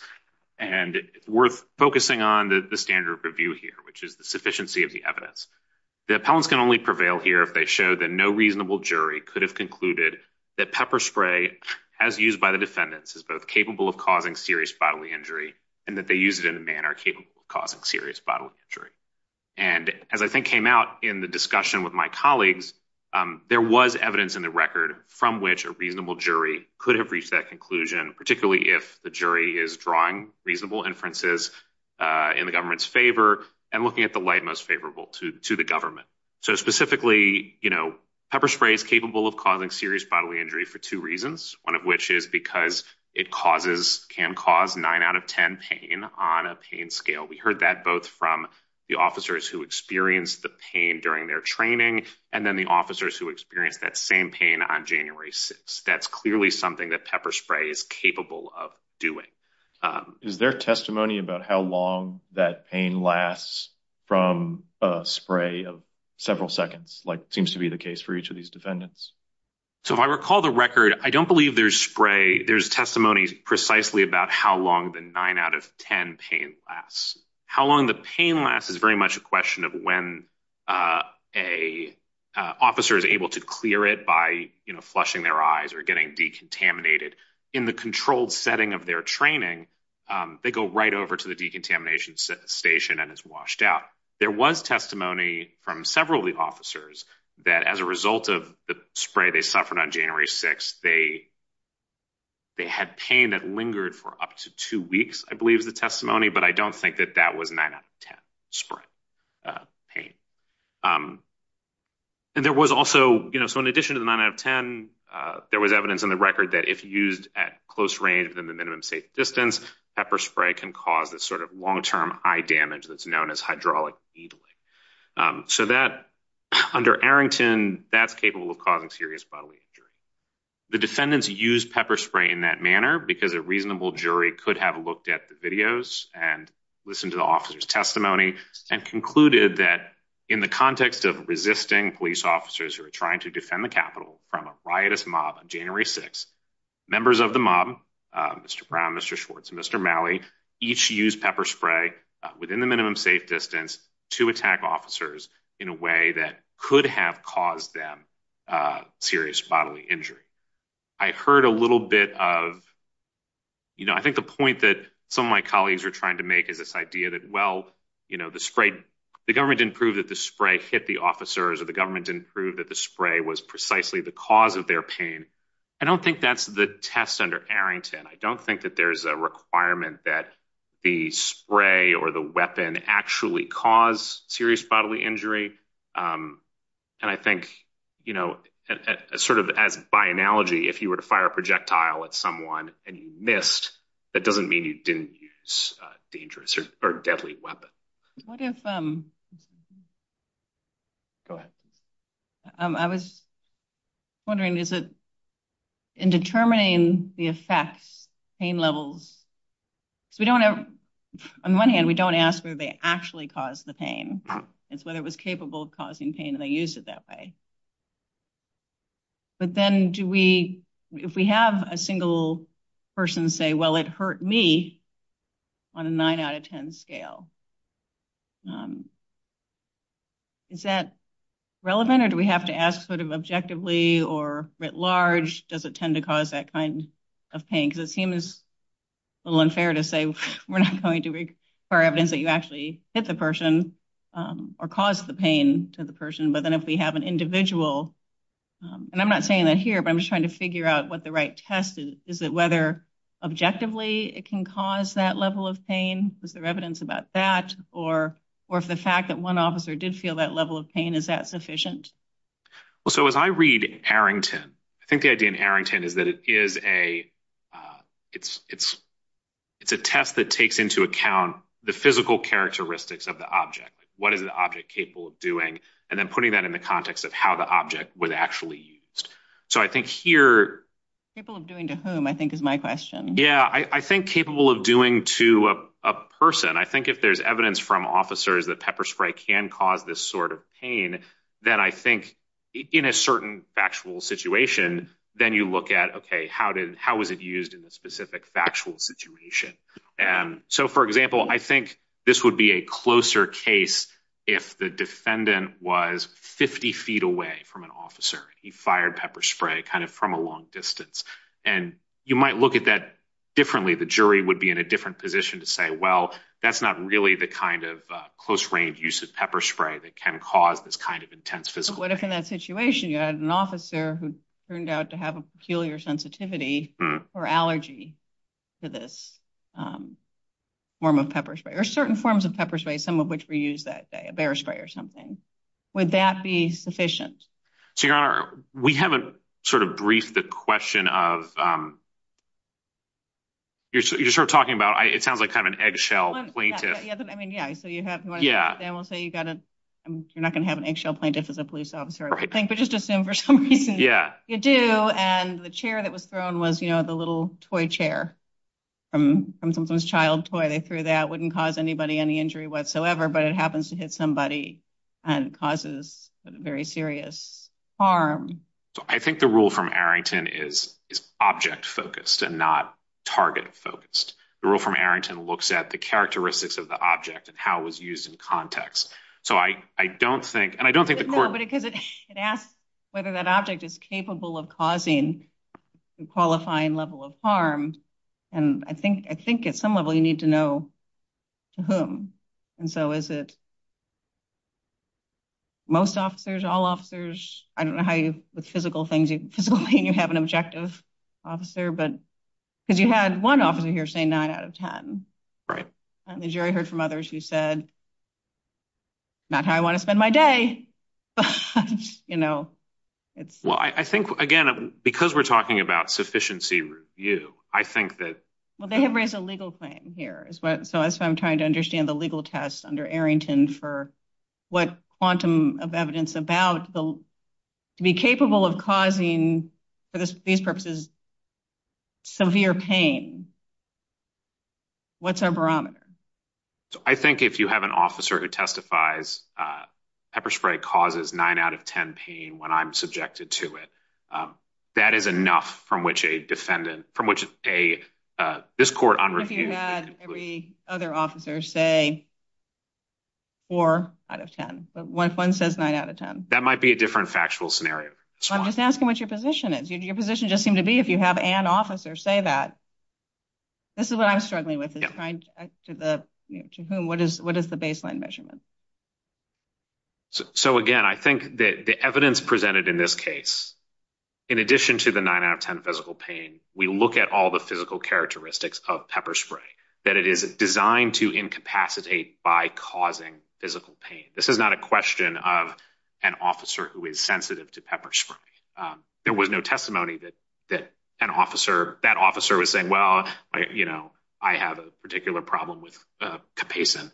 And we're focusing on the standard of review here, which is the sufficiency of the evidence. The appellants can only prevail here if they show that no reasonable jury could have concluded that pepper spray, as used by the defendants, is both capable of causing serious bodily injury, and that they use it in a manner capable of causing serious bodily injury. And as I think came out in the discussion with my colleagues, there was evidence in the record from which a reasonable jury could have reached that conclusion, particularly if the jury is drawing reasonable inferences in the government's favor, and looking at the light most favorable to the government. So specifically, you know, pepper spray is capable of causing serious bodily injury for two reasons, one of which is because it can cause nine out of ten pain on a pain scale. We heard that both from the officers who experienced the pain during their training, and then the officers who experienced that same pain on January 6th. That's clearly something that pepper spray is capable of doing. Is there testimony about how long that pain lasts from a spray of several seconds, like seems to be the case for each of these defendants? So if I recall the record, I don't believe there's spray. There's testimony precisely about how long the nine out of ten pain lasts. How long the pain lasts is very much a question of when an officer is able to clear it by, you know, flushing their eyes or getting decontaminated. In the controlled setting of their training, they go right over to the decontamination station and it's washed out. There was testimony from several of the officers that as a result of the spray they suffered on January 6th, they had pain that lingered for up to two weeks, I believe is the testimony, but I don't think that that was nine out of ten spray pain. And there was also, you know, so in addition to the nine out of ten, there was evidence in the record that if used at close range within the minimum safe distance, pepper spray can cause a sort of long-term eye damage that's known as hydraulic needling. So that, under Arrington, that's capable of causing serious bodily injury. The defendants used pepper spray in that manner because a reasonable jury could have looked at the videos and listened to the officer's testimony and concluded that in the context of resisting police officers who are trying to defend the Capitol from a riotous mob on January 6th, members of the mob, Mr. Brown, Mr. Schwartz, Mr. Malley, each used pepper spray within the minimum safe distance to attack officers in a way that could have caused them serious bodily injury. I heard a little bit of, you know, I think the point that some of my colleagues were trying to make is this idea that, well, you know, the spray, the government didn't prove that the spray hit the officers or the government didn't prove that the spray was precisely the cause of their pain. I don't think that's the test under Arrington. I don't think that there's a requirement that the spray or the weapon actually cause serious bodily injury. And I think, you know, sort of by analogy, if you were to fire a projectile at someone and you missed, that doesn't mean you didn't use dangerous or deadly weapons. What if... Go ahead. I was wondering, is it, in determining the effects, pain levels, we don't have, on one hand, we don't ask if they actually caused the pain. It's whether it was capable of causing pain and they used it that way. But then do we, if we have a single person say, well, it hurt me on a 9 out of 10 scale. Is that relevant or do we have to ask sort of objectively or writ large, does it tend to cause that kind of pain? Because it seems a little unfair to say we're not going to require evidence that you actually hit the person or caused the pain to the person. But then if we have an individual, and I'm not saying that here, but I'm just trying to figure out what the right test is, is it whether objectively it can cause that level of pain? Is there evidence about that? Or if the fact that one officer did feel that level of pain, is that sufficient? So as I read Arrington, I think the idea in Arrington is that it is a test that takes into account the physical characteristics of the object. What is the object capable of doing? And then putting that in the context of how the object was actually used. So I think here... Capable of doing to whom, I think is my question. Yeah, I think capable of doing to a person. I think if there's evidence from officers that pepper spray can cause this sort of pain, then I think in a certain factual situation, then you look at, okay, how was it used in a specific factual situation? So for example, I think this would be a closer case if the defendant was 50 feet away from an officer. He fired pepper spray kind of from a long distance. And you might look at that differently. The jury would be in a different position to say, well, that's not really the kind of close-range use of pepper spray that can cause this kind of intense physical pain. But what if in that situation you had an officer who turned out to have a peculiar sensitivity or allergy to this form of pepper spray? Or certain forms of pepper spray, some of which we use that day. A bear spray or something. Would that be sufficient? So, Your Honor, we haven't sort of briefed the question of... You're sort of talking about... It sounds like kind of an eggshell plaintiff. I mean, yeah. You're not going to have an eggshell plaintiff as a police officer. Right. But just assume for some reason you do. And the chair that was thrown was, you know, the little toy chair from someone's child toy. They threw that. It wouldn't cause anybody any injury whatsoever. But it happens to hit somebody and causes very serious harm. I think the rule from Arrington is object-focused and not target-focused. The rule from Arrington looks at the characteristics of the object and how it was used in context. So I don't think... No, because it asks whether that object is capable of causing a qualifying level of harm. And I think at some level you need to know to whom. And so is it most officers, I don't know how with physical things you'd have an objective officer. Because you had one officer here saying 9 out of 10. And the jury heard from others who said, not how I want to spend my day. Well, I think again, because we're talking about sufficiency review, I think that... Well, they have raised a legal claim here. So I'm trying to understand the legal test under Arrington for what quantum of evidence about to be capable of causing, for these purposes, severe pain. What's our barometer? I think if you have an officer who testifies, pepper spray causes 9 out of 10 pain when I'm subjected to it. That is enough from which a defendant, from which a... If you had every other officer say 4 out of 10. One says 9 out of 10. That might be a different factual scenario. I'm just asking what your position is. Your position just seems to be if you have an officer say that. This is what I'm struggling with. To whom? What is the baseline measurement? So again, I think the evidence presented in this case, in addition to the 9 out of 10 physical pain, we look at all the physical characteristics of pepper spray. That it is designed to incapacitate by causing physical pain. This is not a question of an officer who is sensitive to pepper spray. There was no testimony that that officer was saying, well I have a particular problem with capsaicin.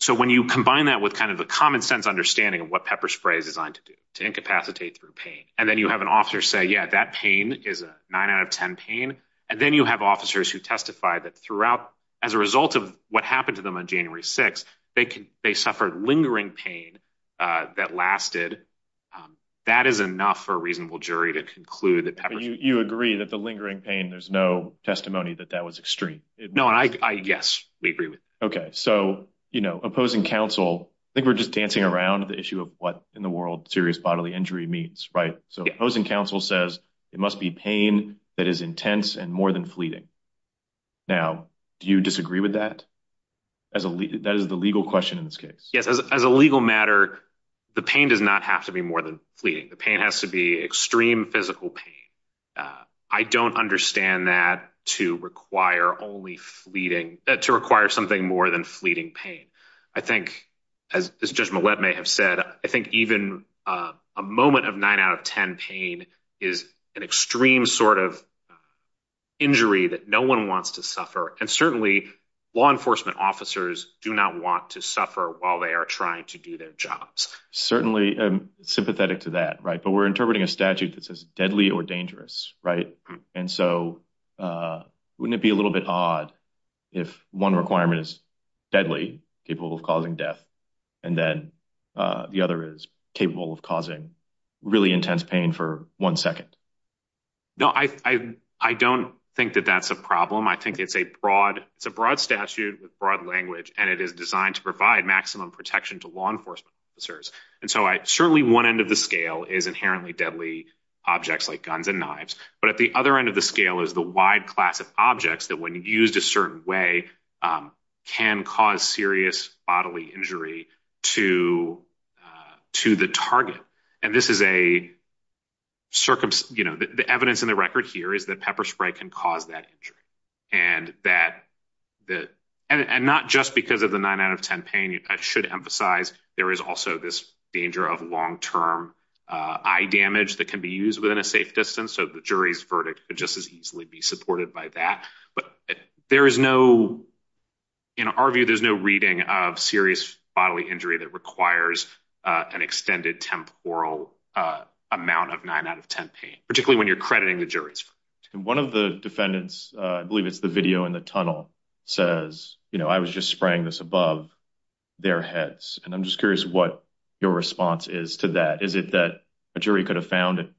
So when you combine that with the common sense understanding of what pepper spray is designed to do, to incapacitate through pain, and then you have an officer say, yeah, that pain is a 9 out of 10 pain, and then you have officers who testify that throughout, as a result of what happened to them on January 6th, they suffered lingering pain that lasted. That is enough for a reasonable jury to conclude that pepper... You agree that the lingering pain, there's no testimony that that was extreme. No, I, yes, we agree. Okay, so, you know, opposing counsel, I think we're just dancing around the issue of what in the world serious bodily injury means, right? So opposing counsel says it must be pain that is intense and more than fleeting. Now, do you disagree with that? That is the legal question in this case. Yes, as a legal matter, the pain does not have to be more than fleeting. The pain has to be extreme physical pain. I don't understand that to require only fleeting, to require something more than fleeting pain. I think, as Judge Millett may have said, I think even a moment of 9 out of 10 pain is an extreme sort of injury that no one wants to suffer, and certainly law enforcement officers do not want to suffer while they are trying to do their jobs. Certainly, sympathetic to that, right? But we're interpreting a statute that says deadly or dangerous, right? And so wouldn't it be a little bit odd if one requirement is deadly, capable of causing death, and then the other is capable of causing really intense pain for one second? No, I don't think that that's a problem. I think it's a broad statute with broad language, and it is designed to provide maximum protection to law enforcement officers. And so, certainly one end of the scale is inherently deadly objects like guns and knives. But at the other end of the scale is the wide class of objects that, when used a certain way, can cause serious bodily injury to the target. And this is a circumstance, you know, the evidence in the record here is that pepper spray can cause that injury. And that and not just because of the 9 out of 10 pain, I should emphasize, there is also this danger of long-term eye damage that can be used within a safe distance, so the jury's verdict could just as easily be supported by that. But there is no in our view, there's no reading of serious bodily injury that requires an extended temporal amount of 9 out of 10 pain, particularly when you're crediting the jury. And one of the defendants, I believe it's the video in the tunnel, says, you know, I was just spraying this above their heads. And I'm just curious what your response is to that. Is it that a jury could have found it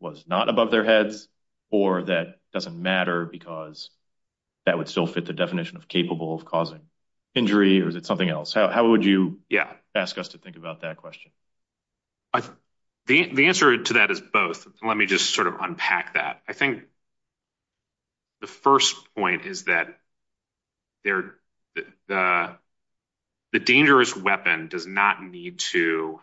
was not above their heads, or that it doesn't matter because that would still fit the definition of capable of causing injury, or is it something else? How would you ask us to think about that question? The answer to that is both. Let me just sort of unpack that. I think the first point is that there the dangerous weapon does not need to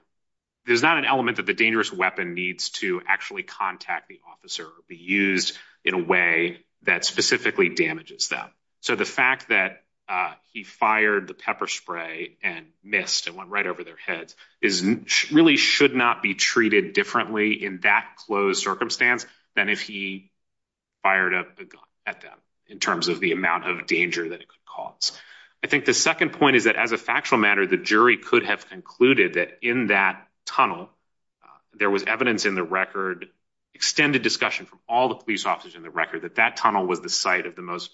there's not an element that the dangerous weapon needs to actually contact the officer, be used in a way that specifically damages them. So the fact that he fired the pepper spray and missed and went right over their heads really should not be treated differently in that closed circumstance than if he fired a gun at them in terms of the amount of danger that it could cause. I think the second point is that as a factual matter the jury could have concluded that in that tunnel there was evidence in the record extended discussion from all the police officers in the record that that tunnel was the site of the most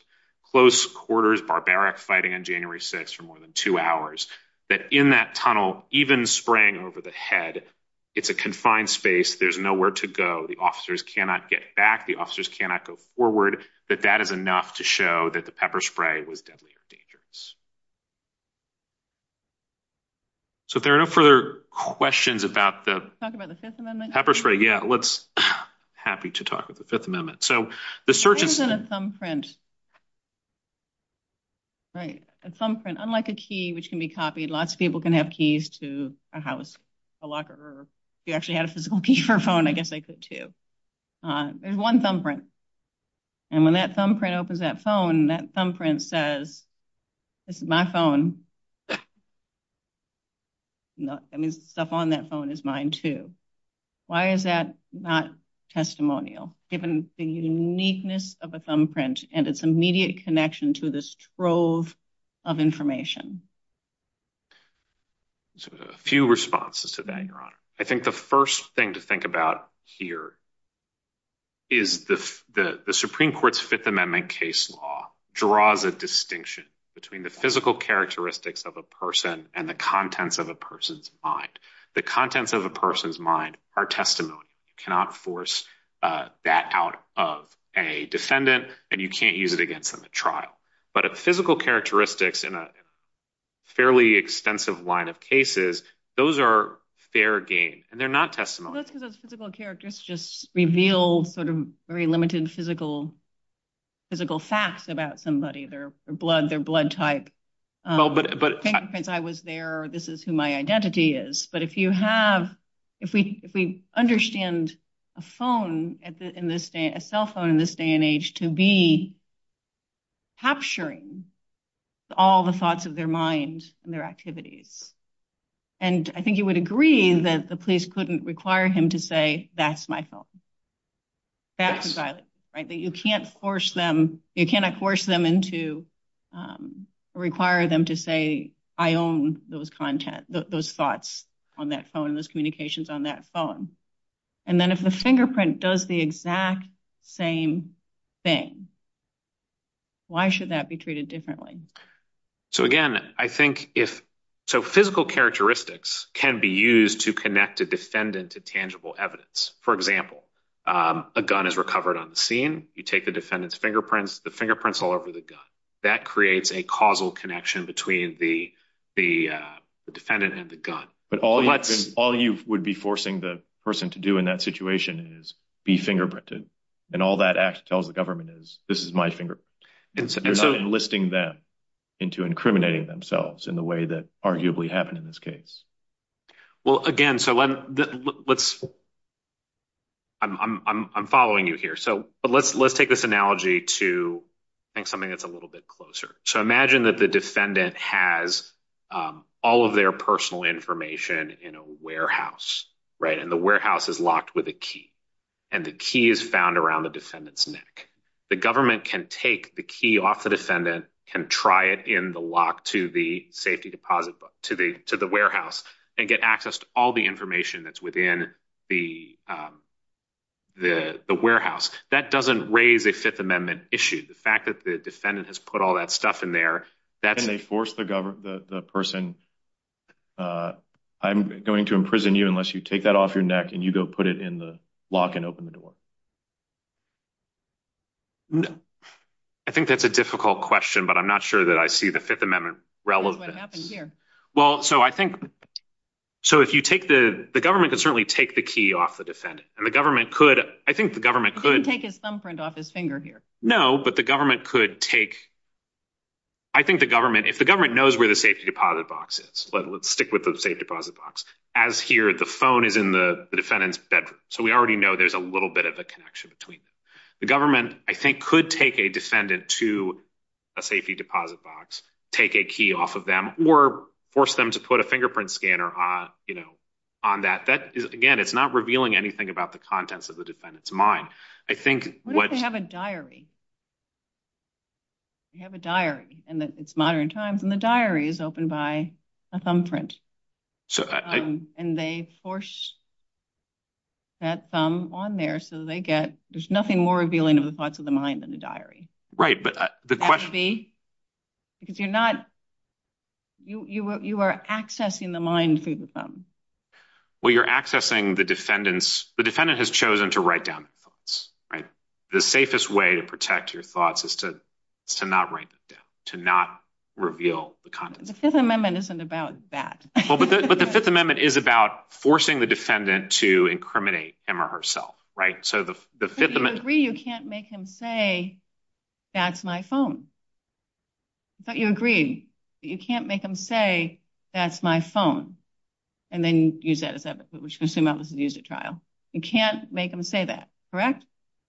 close quarters barbaric fighting on January 6th for more than two hours. That in that tunnel even spraying over the head it's a confined space there's nowhere to go. The officers cannot get back. The officers cannot go forward but that is enough to show that the pepper spray was deadly or dangerous. So if there are no further questions about the pepper spray I'm happy to talk about the Fifth Amendment. Unlike a key which can be copied lots of people can have keys to a house a locker or if you actually have a physical key for a phone I guess they could too. There's one thumbprint and when that thumbprint opens that phone that thumbprint says this is my phone and the stuff on that phone is mine too. Why is that not testimonial given the uniqueness of a thumbprint and its immediate connection to this trove of information? A few responses to that your honor. I think the first thing to think about here is the Supreme Court's Fifth Amendment case law draws a distinction between the physical characteristics of a person and the contents of a person's mind. The contents of a person's mind are testimony. You cannot force that out of a defendant and you can't use it against them at trial. But if physical characteristics in a fairly extensive line of cases those are fair game and they're not testimonial. The physical characteristics just reveal sort of very limited physical facts about somebody. Their blood type. I was there or this is who my identity is but if you have if we understand a phone in this day a cell phone in this day and age to be capturing all the thoughts of their mind and their activities and I think you would agree that the police couldn't require him to say that's my phone. That's violent. You can't force them you cannot force them into require them to say I own those content those thoughts on that phone those communications on that phone and then if the fingerprint does the exact same thing why should that be treated differently? So again I think if so physical characteristics can be used to connect a defendant to tangible evidence. For example a gun is recovered on the scene and you take the defendant's fingerprints the fingerprints all over the gun that creates a causal connection between the defendant and the gun. All you would be forcing the person to do in that situation is be fingerprinted and all that tells the government is this is my fingerprint. You're not enlisting them into incriminating themselves in the way that arguably happened in this case. Well again so I'm following you here. So let's take this analogy to something that's a little bit closer. So imagine that the defendant has all of their personal information in a warehouse and the warehouse is locked with a key and the key is found around the defendant's neck. The government can take the key off the defendant can try it in the lock to the safety deposit book to the warehouse and get access to all the information that's within the warehouse. That doesn't raise a Fifth Amendment issue. The fact that the defendant has put all that stuff in there Can they force the person I'm going to imprison you unless you take that off your neck and you go put it in the lock and open it again? No. I think that's a difficult question but I'm not sure that I see the Fifth Amendment relevant. Well, so I think so if you take the government can certainly take the key off the defendant and the government could take his thumbprint off his finger here. No, but the government could take I think the government if the government knows where the safety deposit box is let's stick with the safe deposit box as here the phone is in the defendant's bedroom. So we already know there's a little bit of a connection between them. The government I think could take a defendant to a safety deposit box, take a key off of them or force them to put a fingerprint scanner on that. Again, it's not revealing anything about the contents of the defendant's mind. What if they have a diary? They have a diary and it's modern times and the diary is opened by a thumbprint and they force that thumb on there so they get, there's nothing more revealing of the thoughts of the mind than a diary. Right, but the question because you're not you are accessing the mind through the thumb. Well, you're accessing the defendant's the defendant has chosen to write down the safest way to protect your thoughts is to not write them down, to not reveal the content. The Fifth Amendment isn't about that. Well, but the Fifth Amendment is about forcing the defendant to incriminate him or herself. Right, so the Fifth Amendment I thought you agreed you can't make him say that's my phone. I thought you agreed that you can't make him say that's my phone and then use that as evidence. You can't make him say that. Correct?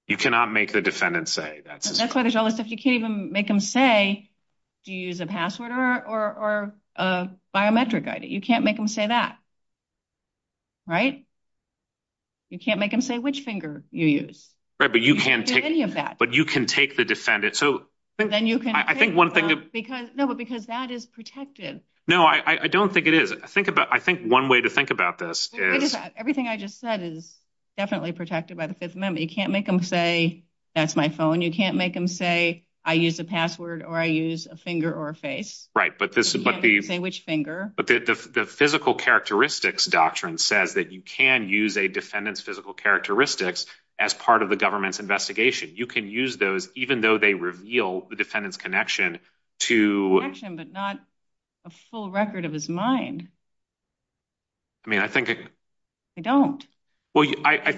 You cannot make the defendant say that. That's why there's all this stuff you can't even make him say do you use a password or a biometric ID. You can't make him say that. Right? You can't make him say which finger you use. But you can take the defendant I think one thing No, but because that is protected. No, I don't think it is. I think one way to think about this is everything I just said is definitely protected by the Fifth Amendment. You can't make him say that's my phone. You can't make him say I use a password or I use a finger or a face. Right, but this is the physical characteristics doctrine says that you can use a defendant's physical characteristics as part of the government's investigation. You can use those even though they reveal the defendant's connection to connection but not a full record of his mind. I mean I think I don't. I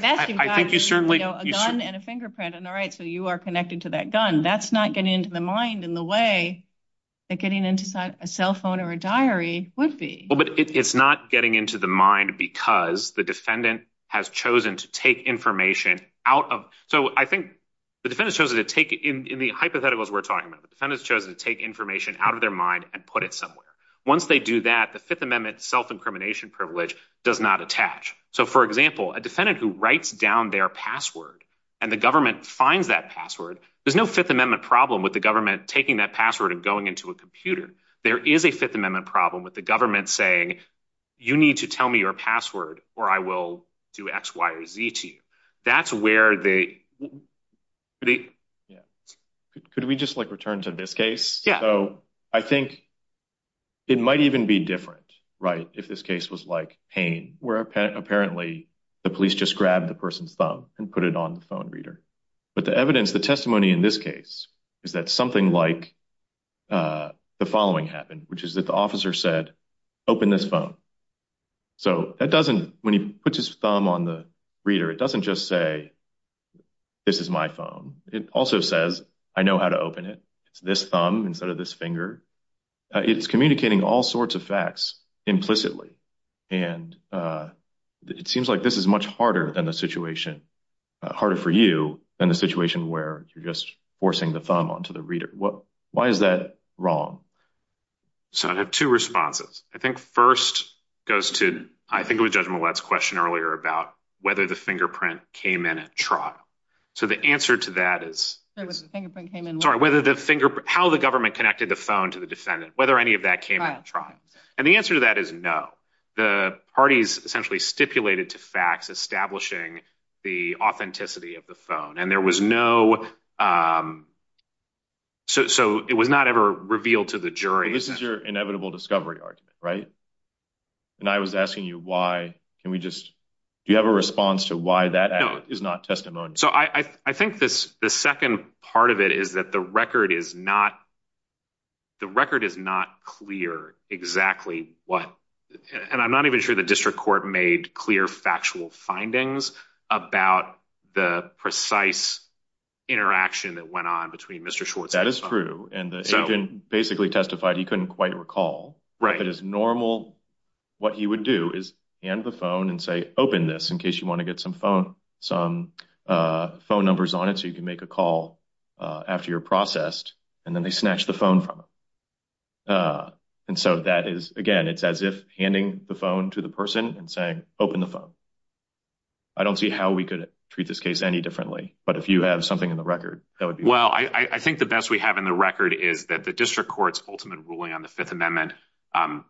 think you certainly a gun and a fingerprint on the right so you are connected to that gun. That's not getting into the mind in the way that getting into a cell phone or a diary would be. But it's not getting into the mind because the defendant has chosen to take information out of. So I think the defendant has chosen to take in the hypotheticals we are talking about. The defendant has chosen to take information out of their mind and put it somewhere. Once they do that, the Fifth Amendment self-incrimination privilege does not attach. So for example, a defendant who writes down their password and the government finds that password, there's no Fifth Amendment problem with the government taking that password and going into a computer. There is a Fifth Amendment problem with the government saying you need to tell me your password or I will do X, Y, or Z to you. That's where they Could we just like return to this case? I think it might even be different if this case was like pain where apparently the police just grabbed the person's thumb and put it on the phone reader. But the evidence, the testimony in this case is that something like the following happened which is that the officer said open this phone. When he puts his thumb on the reader, it doesn't just say this is my phone. It also says I know how to open it. It's this thumb instead of this finger. It's communicating all sorts of facts implicitly and it seems like this is much harder than the situation harder for you than the situation where you're just forcing the thumb onto the reader. Why is that wrong? So I have two responses. I think first goes to I think it was Judge Millett's question earlier about whether the fingerprint came in at trial. So the answer to that is how the government connected the phone to the defendant, whether any of that came in at trial. And the answer to that is no. The parties essentially stipulated to facts establishing the authenticity of the phone and there was no so it was not ever revealed to the jury. This is your inevitable discovery argument, right? And I was asking you why can we just do you have a response to why that is not testimony? So I think the second part of it is that the record is not the record is not clear exactly what and I'm not even sure the district court made clear factual findings about the precise interaction that went on between Mr. Schwartz and his son. That is true. And the agent basically testified he couldn't quite recall. If it is normal, what he would do is hand the phone and say open this in case you want to get some phone numbers on it so you can make a call after you're processed and then they snatch the phone from him. And so that is, again, it's as if handing the phone to the person and saying open the phone. I don't see how we could treat this case any differently but if you have something in the record Well, I think the best we have in the record is that the district court's ultimate ruling on the Fifth Amendment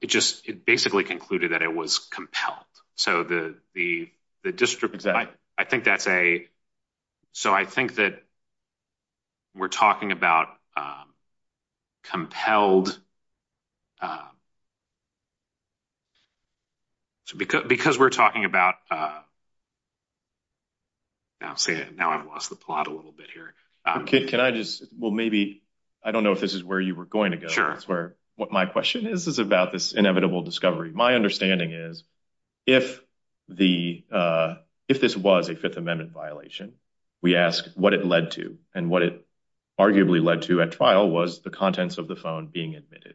it basically concluded that it was compelled. So the district, I think that's a so I think that we're talking about compelled So because we're talking about I'll see now I've lost the plot a little bit here Can I just, well maybe I don't know if this is where you were going to go What my question is is about this inevitable discovery. My understanding is if this was a Fifth Amendment violation we ask what it led to and what it arguably led to at trial was the contents of the phone being admitted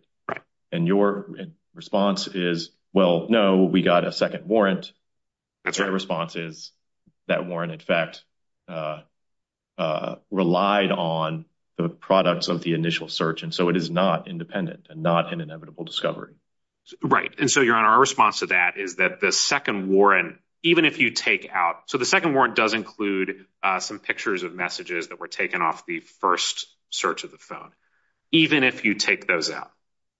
and your response is well, no, we got a second warrant. Your response is that warrant in fact relied on the products of the initial search and so it is not independent and not an inevitable discovery Right, and so your Honor, our response to that is that the second warrant even if you take out, so the second warrant does include some pictures of messages that were taken off the first search of the phone even if you take those out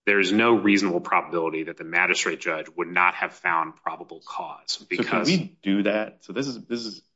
there's no reasonable probability that the magistrate judge would not have found probable cause because Can we do that?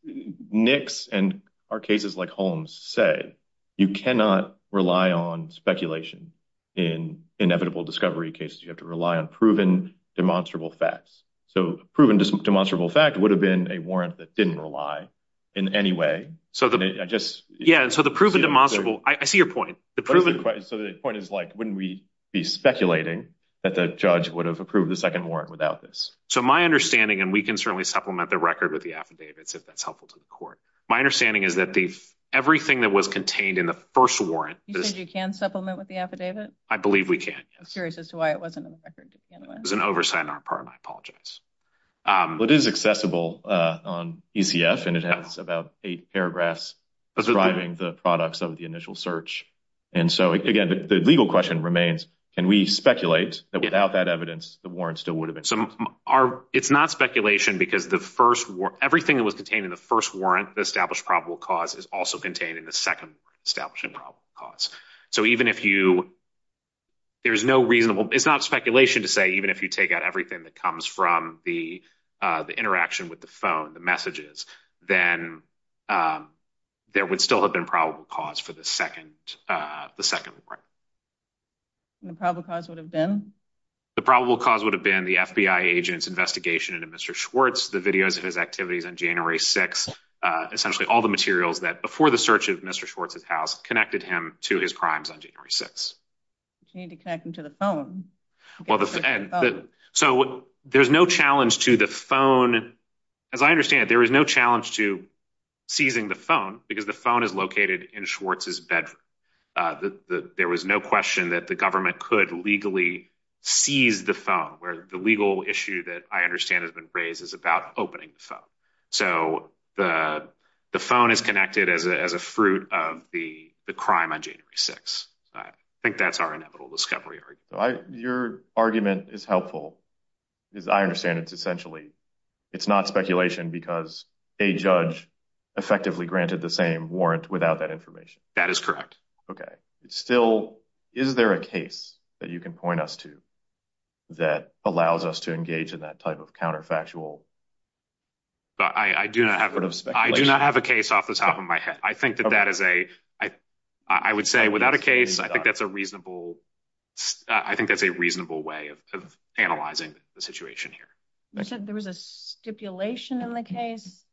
NICs and our cases like Holmes say you cannot rely on speculation in inevitable discovery cases. You have to rely on proven demonstrable facts so proven demonstrable facts would have been a warrant that didn't rely in any way Yeah, so the proven demonstrable I see your point So the point is like, wouldn't we be speculating that the judge would have approved the second warrant without this? So my understanding, and we can certainly supplement the record with the affidavits if that's helpful to the court My understanding is that everything that was contained in the first warrant You think you can supplement with the affidavit? I believe we can. I'm curious as to why it wasn't in the record. It was an oversight on our part and I apologize It is accessible on ECF It's about eight paragraphs driving the products of the initial search and so again the legal question remains, can we speculate that without that evidence the warrant still would have been? It's not speculation because the first everything that was contained in the first warrant the established probable cause is also contained in the second established probable cause so even if you there's no reasonable, it's not speculation to say even if you take out everything that comes from the interaction with the phone, the messages then there would still have been probable cause for the second the second warrant And the probable cause would have been? The probable cause would have been the FBI agent's investigation into Mr. Schwartz the videos of his activities on January 6th, essentially all the materials that before the search of Mr. Schwartz's house connected him to his crimes on January 6th You need to connect him to the phone So there's no challenge to the phone as I understand it, there is no challenge to seizing the phone because the phone is located in Schwartz's bedroom there was no question that the government could legally seize the phone where the legal issue that I understand has been raised is about opening the phone so the phone is connected as a fruit of the crime on January 6th I think that's our inevitable discovery Your argument is helpful It's not speculation because a judge effectively granted the same warrant without that information. That is correct Still, is there a case that you can point us to that allows us to engage in that type of counterfactual I do not have a case off the top of my head. I think that that is a I would say without a case I think that's a reasonable I think that's a reasonable way of analyzing the situation here. You said there was a stipulation in the case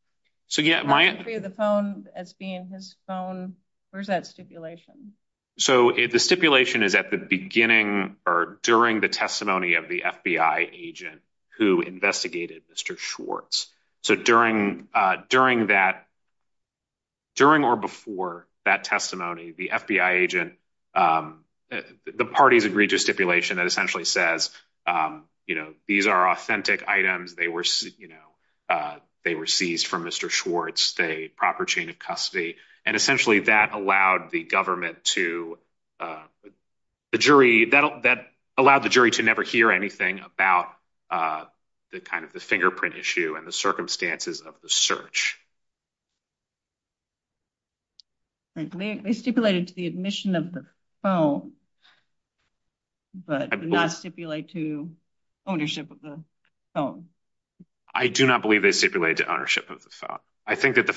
I see the phone as being his phone. Where's that stipulation? So the stipulation is at the beginning or during the testimony of the FBI agent who investigated Mr. Schwartz So during that during or before that testimony, the FBI agent the parties agreed to a stipulation that essentially says, you know, these are authentic items they were seized from Mr. Schwartz. They had proper chain of custody. And essentially that allowed the government to the jury that allowed the jury to never hear anything about the fingerprint issue and the circumstances of the search They stipulated to the admission of the phone but did not stipulate to ownership of the phone I do not believe they stipulated to ownership of the phone I think that the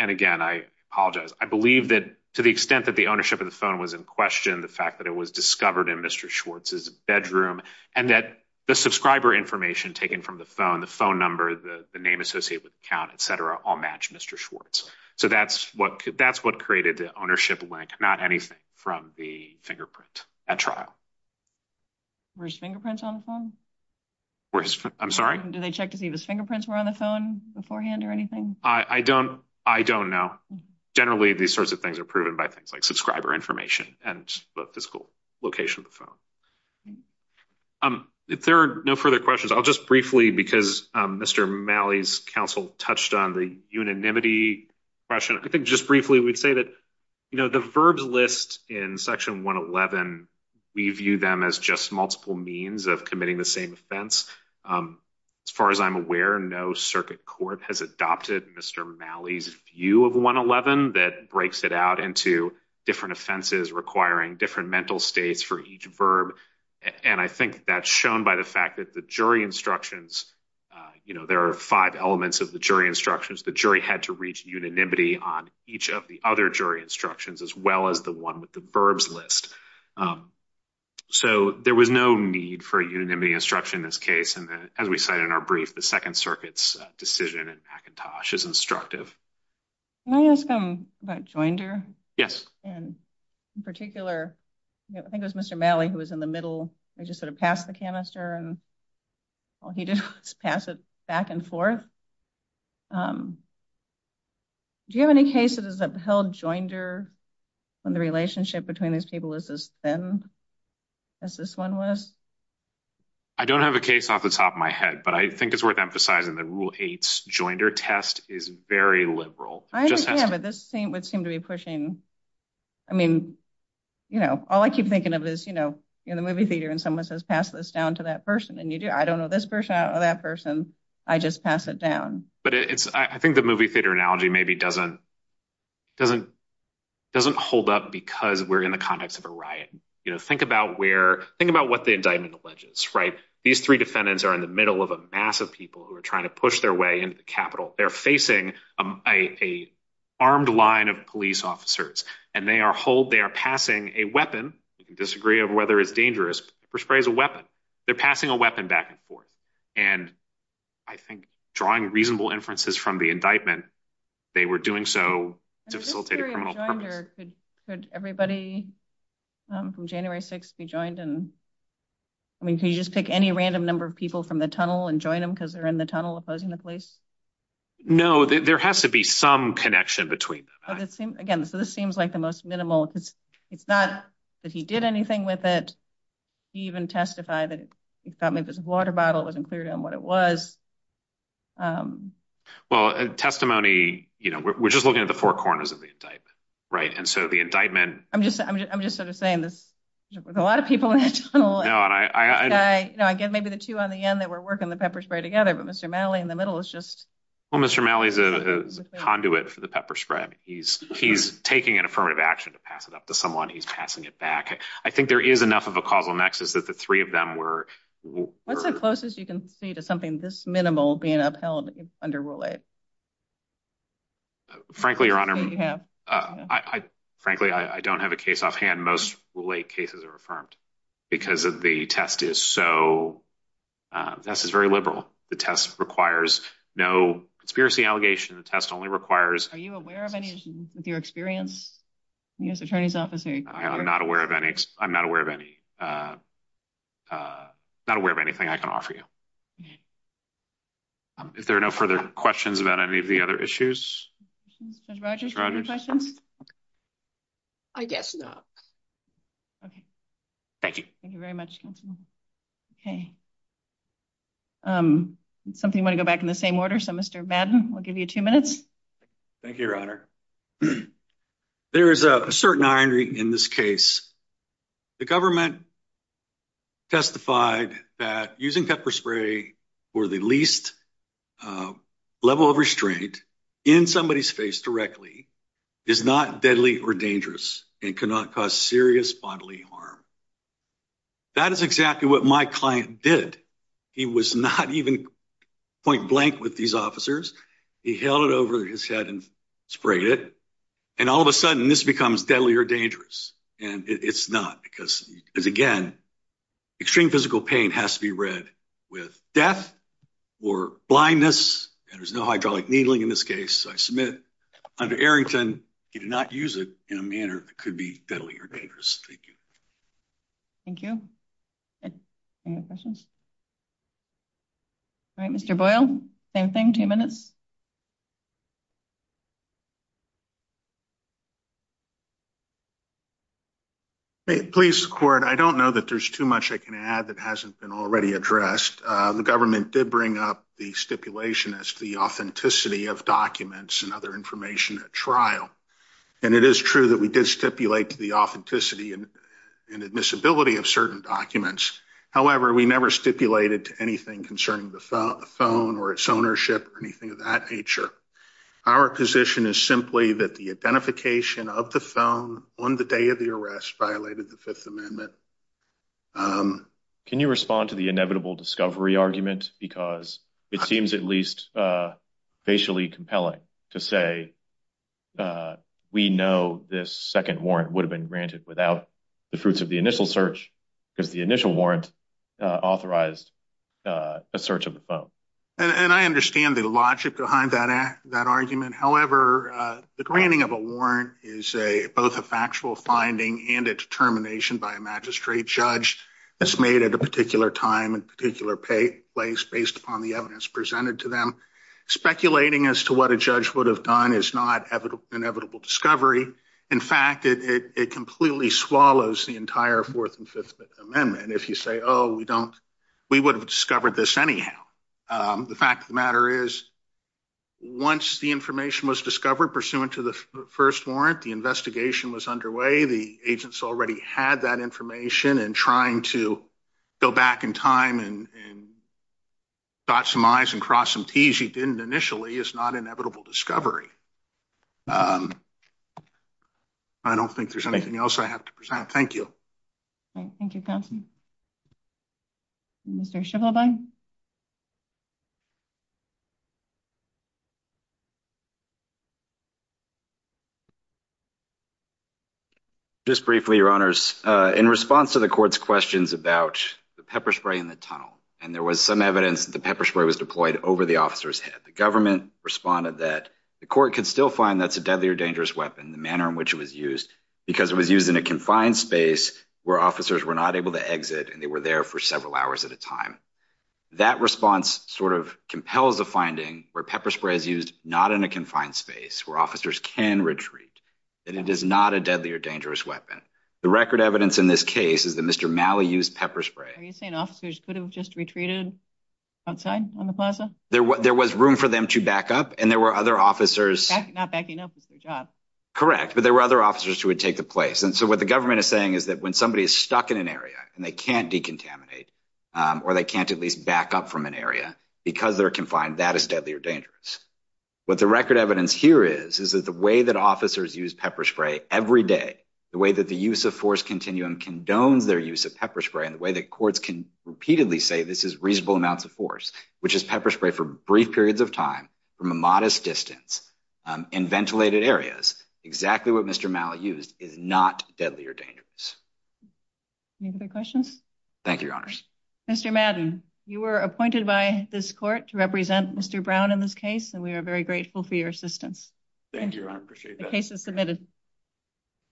and again I apologize, I believe that to the extent that the ownership of the phone was in question, the fact that it was discovered in Mr. Schwartz's bedroom and that the subscriber information taken from the phone, the phone number the name associated with the account, etc. all match Mr. Schwartz So that's what created the ownership link, not anything from the fingerprint at trial Were his fingerprints on the phone? I'm sorry? Did they check to see if his fingerprints were on the phone beforehand or anything? I don't know. Generally these sorts of things are proven by things like subscriber information and the physical location of the phone If there are no further questions I'll just briefly, because Mr. Malley's counsel touched on the unanimity question I think just briefly we'd say that the verbs list in Section 111, we view them as just multiple means of committing the same offense As far as I'm aware, no circuit court has adopted Mr. Malley's view of 111 that breaks it out into different offenses requiring different mental states for each verb and I think that's shown by the fact that the jury instructions, there are five elements of the jury instructions The jury had to reach unanimity on each of the other jury instructions as well as the one with the verbs list So there was no need for unanimity instruction in this case and as we said in our brief the Second Circuit's decision in McIntosh is instructive Can I ask about Joinder? In particular, I think it was Mr. Malley who was in the middle He just sort of passed the canister and he just passed it back and forth Do you have any cases that held Joinder when the relationship between these people was as thin as this one was? I don't have a case off the top of my head but I think it's worth emphasizing that Rule 8 Joinder test is very liberal. I understand but this thing would seem to be pushing I mean, you know, all I keep thinking of is, you know, you're in the movie theater and someone says pass this down to that person and you do I don't know this person or that person I just pass it down I think the movie theater analogy maybe doesn't doesn't hold up because we're in the context of a riot. Think about where think about what the indictment alleges These three defendants are in the middle of a mass of people who are trying to push their way into the Capitol. They're facing an armed line of police officers and they are told they are passing a weapon you can disagree on whether it's dangerous a weapon. They're passing a weapon back and forth and I think drawing reasonable inferences from the indictment, they were doing so to facilitate a criminal Could everybody from January 6th be joined and, I mean, can you just pick any random number of people from the tunnel and join them because they're in the tunnel opposing the police? No, there has to be some connection between them Again, this seems like the most minimal it's not that he did anything with it. He even testified that it was a water bottle. It wasn't clear to him what it was Well testimony, you know, we're just looking at the four corners of the indictment and so the indictment I'm just sort of saying there's a lot of people in that tunnel Maybe the two on the end that were working the pepper spray together but Mr. Malley in the middle is just Well, Mr. Malley is the conduit for the pepper spread He's taking an affirmative action to pass it up to someone. He's passing it back I think there is enough of a causal nexus that the three of them were What's the closest you can see to something this minimal being upheld under Roulette? Frankly, Your Honor Frankly, I don't have a case offhand Most Roulette cases are affirmed because of the test is so This is very liberal The test requires no Conspiracy allegation test only requires Are you aware of any issues with your experience? Yes, Attorney's Office I'm not aware of any I'm not aware of anything I can offer you If there are no further questions about any of the other issues I guess no Thank you Thank you very much Okay Something might go back in the same order I'll give you two minutes Thank you, Your Honor There is a certain irony in this case The government testified that using pepper spray for the least level of restraint in somebody's face directly is not deadly or dangerous and cannot cause serious bodily harm That is exactly what my client did He was not even point blank with these officers He held it over his head and sprayed it and all of a sudden this becomes deadly or dangerous and it's not because again, extreme physical pain has to be read with death or blindness and there's no hydraulic needling in this case I submit under Arrington he did not use it in a manner that could be deadly or dangerous Thank you Any other questions? All right Mr. Boyle, same thing, two minutes Please, Court I don't know that there's too much I can add that hasn't been already addressed The government did bring up the stipulation as to the authenticity of documents and other information at trial and it is true that we did stipulate the authenticity and admissibility of certain documents However, we never stipulated anything concerning the phone or its ownership or anything of that nature Our position is simply that the identification of the phone on the day of the arrest violated the Fifth Amendment Can you respond to the inevitable discovery argument? Because it seems at least facially compelling to say we know this second warrant would have been granted without the fruits of the initial search because the initial warrant authorized a search of the phone And I understand the logic behind that argument However, the granting of a warrant is both a factual finding and a determination by a magistrate judge that's made at a particular time and particular place based upon the evidence presented to them Speculating as to what a judge would have done is not an inevitable discovery. In fact, it completely swallows the entire Fourth and Fifth Amendment If you say, oh, we would have discovered this anyhow The fact of the matter is once the information was discovered pursuant to the first warrant the investigation was underway the agents already had that information and trying to go back in time and cross some I's and cross some T's you didn't initially is not an inevitable discovery I don't think there's anything else I have to present. Thank you Thank you, Thompson Mr. Schivelbein Just briefly, Your Honors In response to the court's questions about the pepper spray in the tunnel and there was some evidence that the pepper spray was deployed over the officer's head the government responded that the court could still find that it's a deadly or dangerous weapon in the manner in which it was used because it was used in a confined space where officers were not able to exit and they were there for several hours at a time That response sort of compels a finding where pepper spray is used not in a confined space where officers can retreat and it is not a deadly or dangerous weapon The record evidence in this case is that Mr. Malley used pepper spray Are you saying officers could have just retreated outside on the plaza? There was room for them to back up and there were other officers Correct, but there were other officers who would take the place and so what the government is saying is that when somebody is stuck in an area and they can't decontaminate or they can't at least back up from an area because they're confined, that is deadly or dangerous What the record evidence here is is that the way that officers use pepper spray every day, the way that the use of force continue and condone their use of pepper spray and the way that courts can repeatedly say this is reasonable amounts of force which is pepper spray for brief periods of time from a modest distance in ventilated areas exactly what Mr. Malley used is not deadly or dangerous Any other questions? Thank you, Your Honors. Mr. Madden, you were appointed by this court to represent Mr. Brown in this case and we are very grateful for your assistance Thank you, Your Honor. Appreciate that.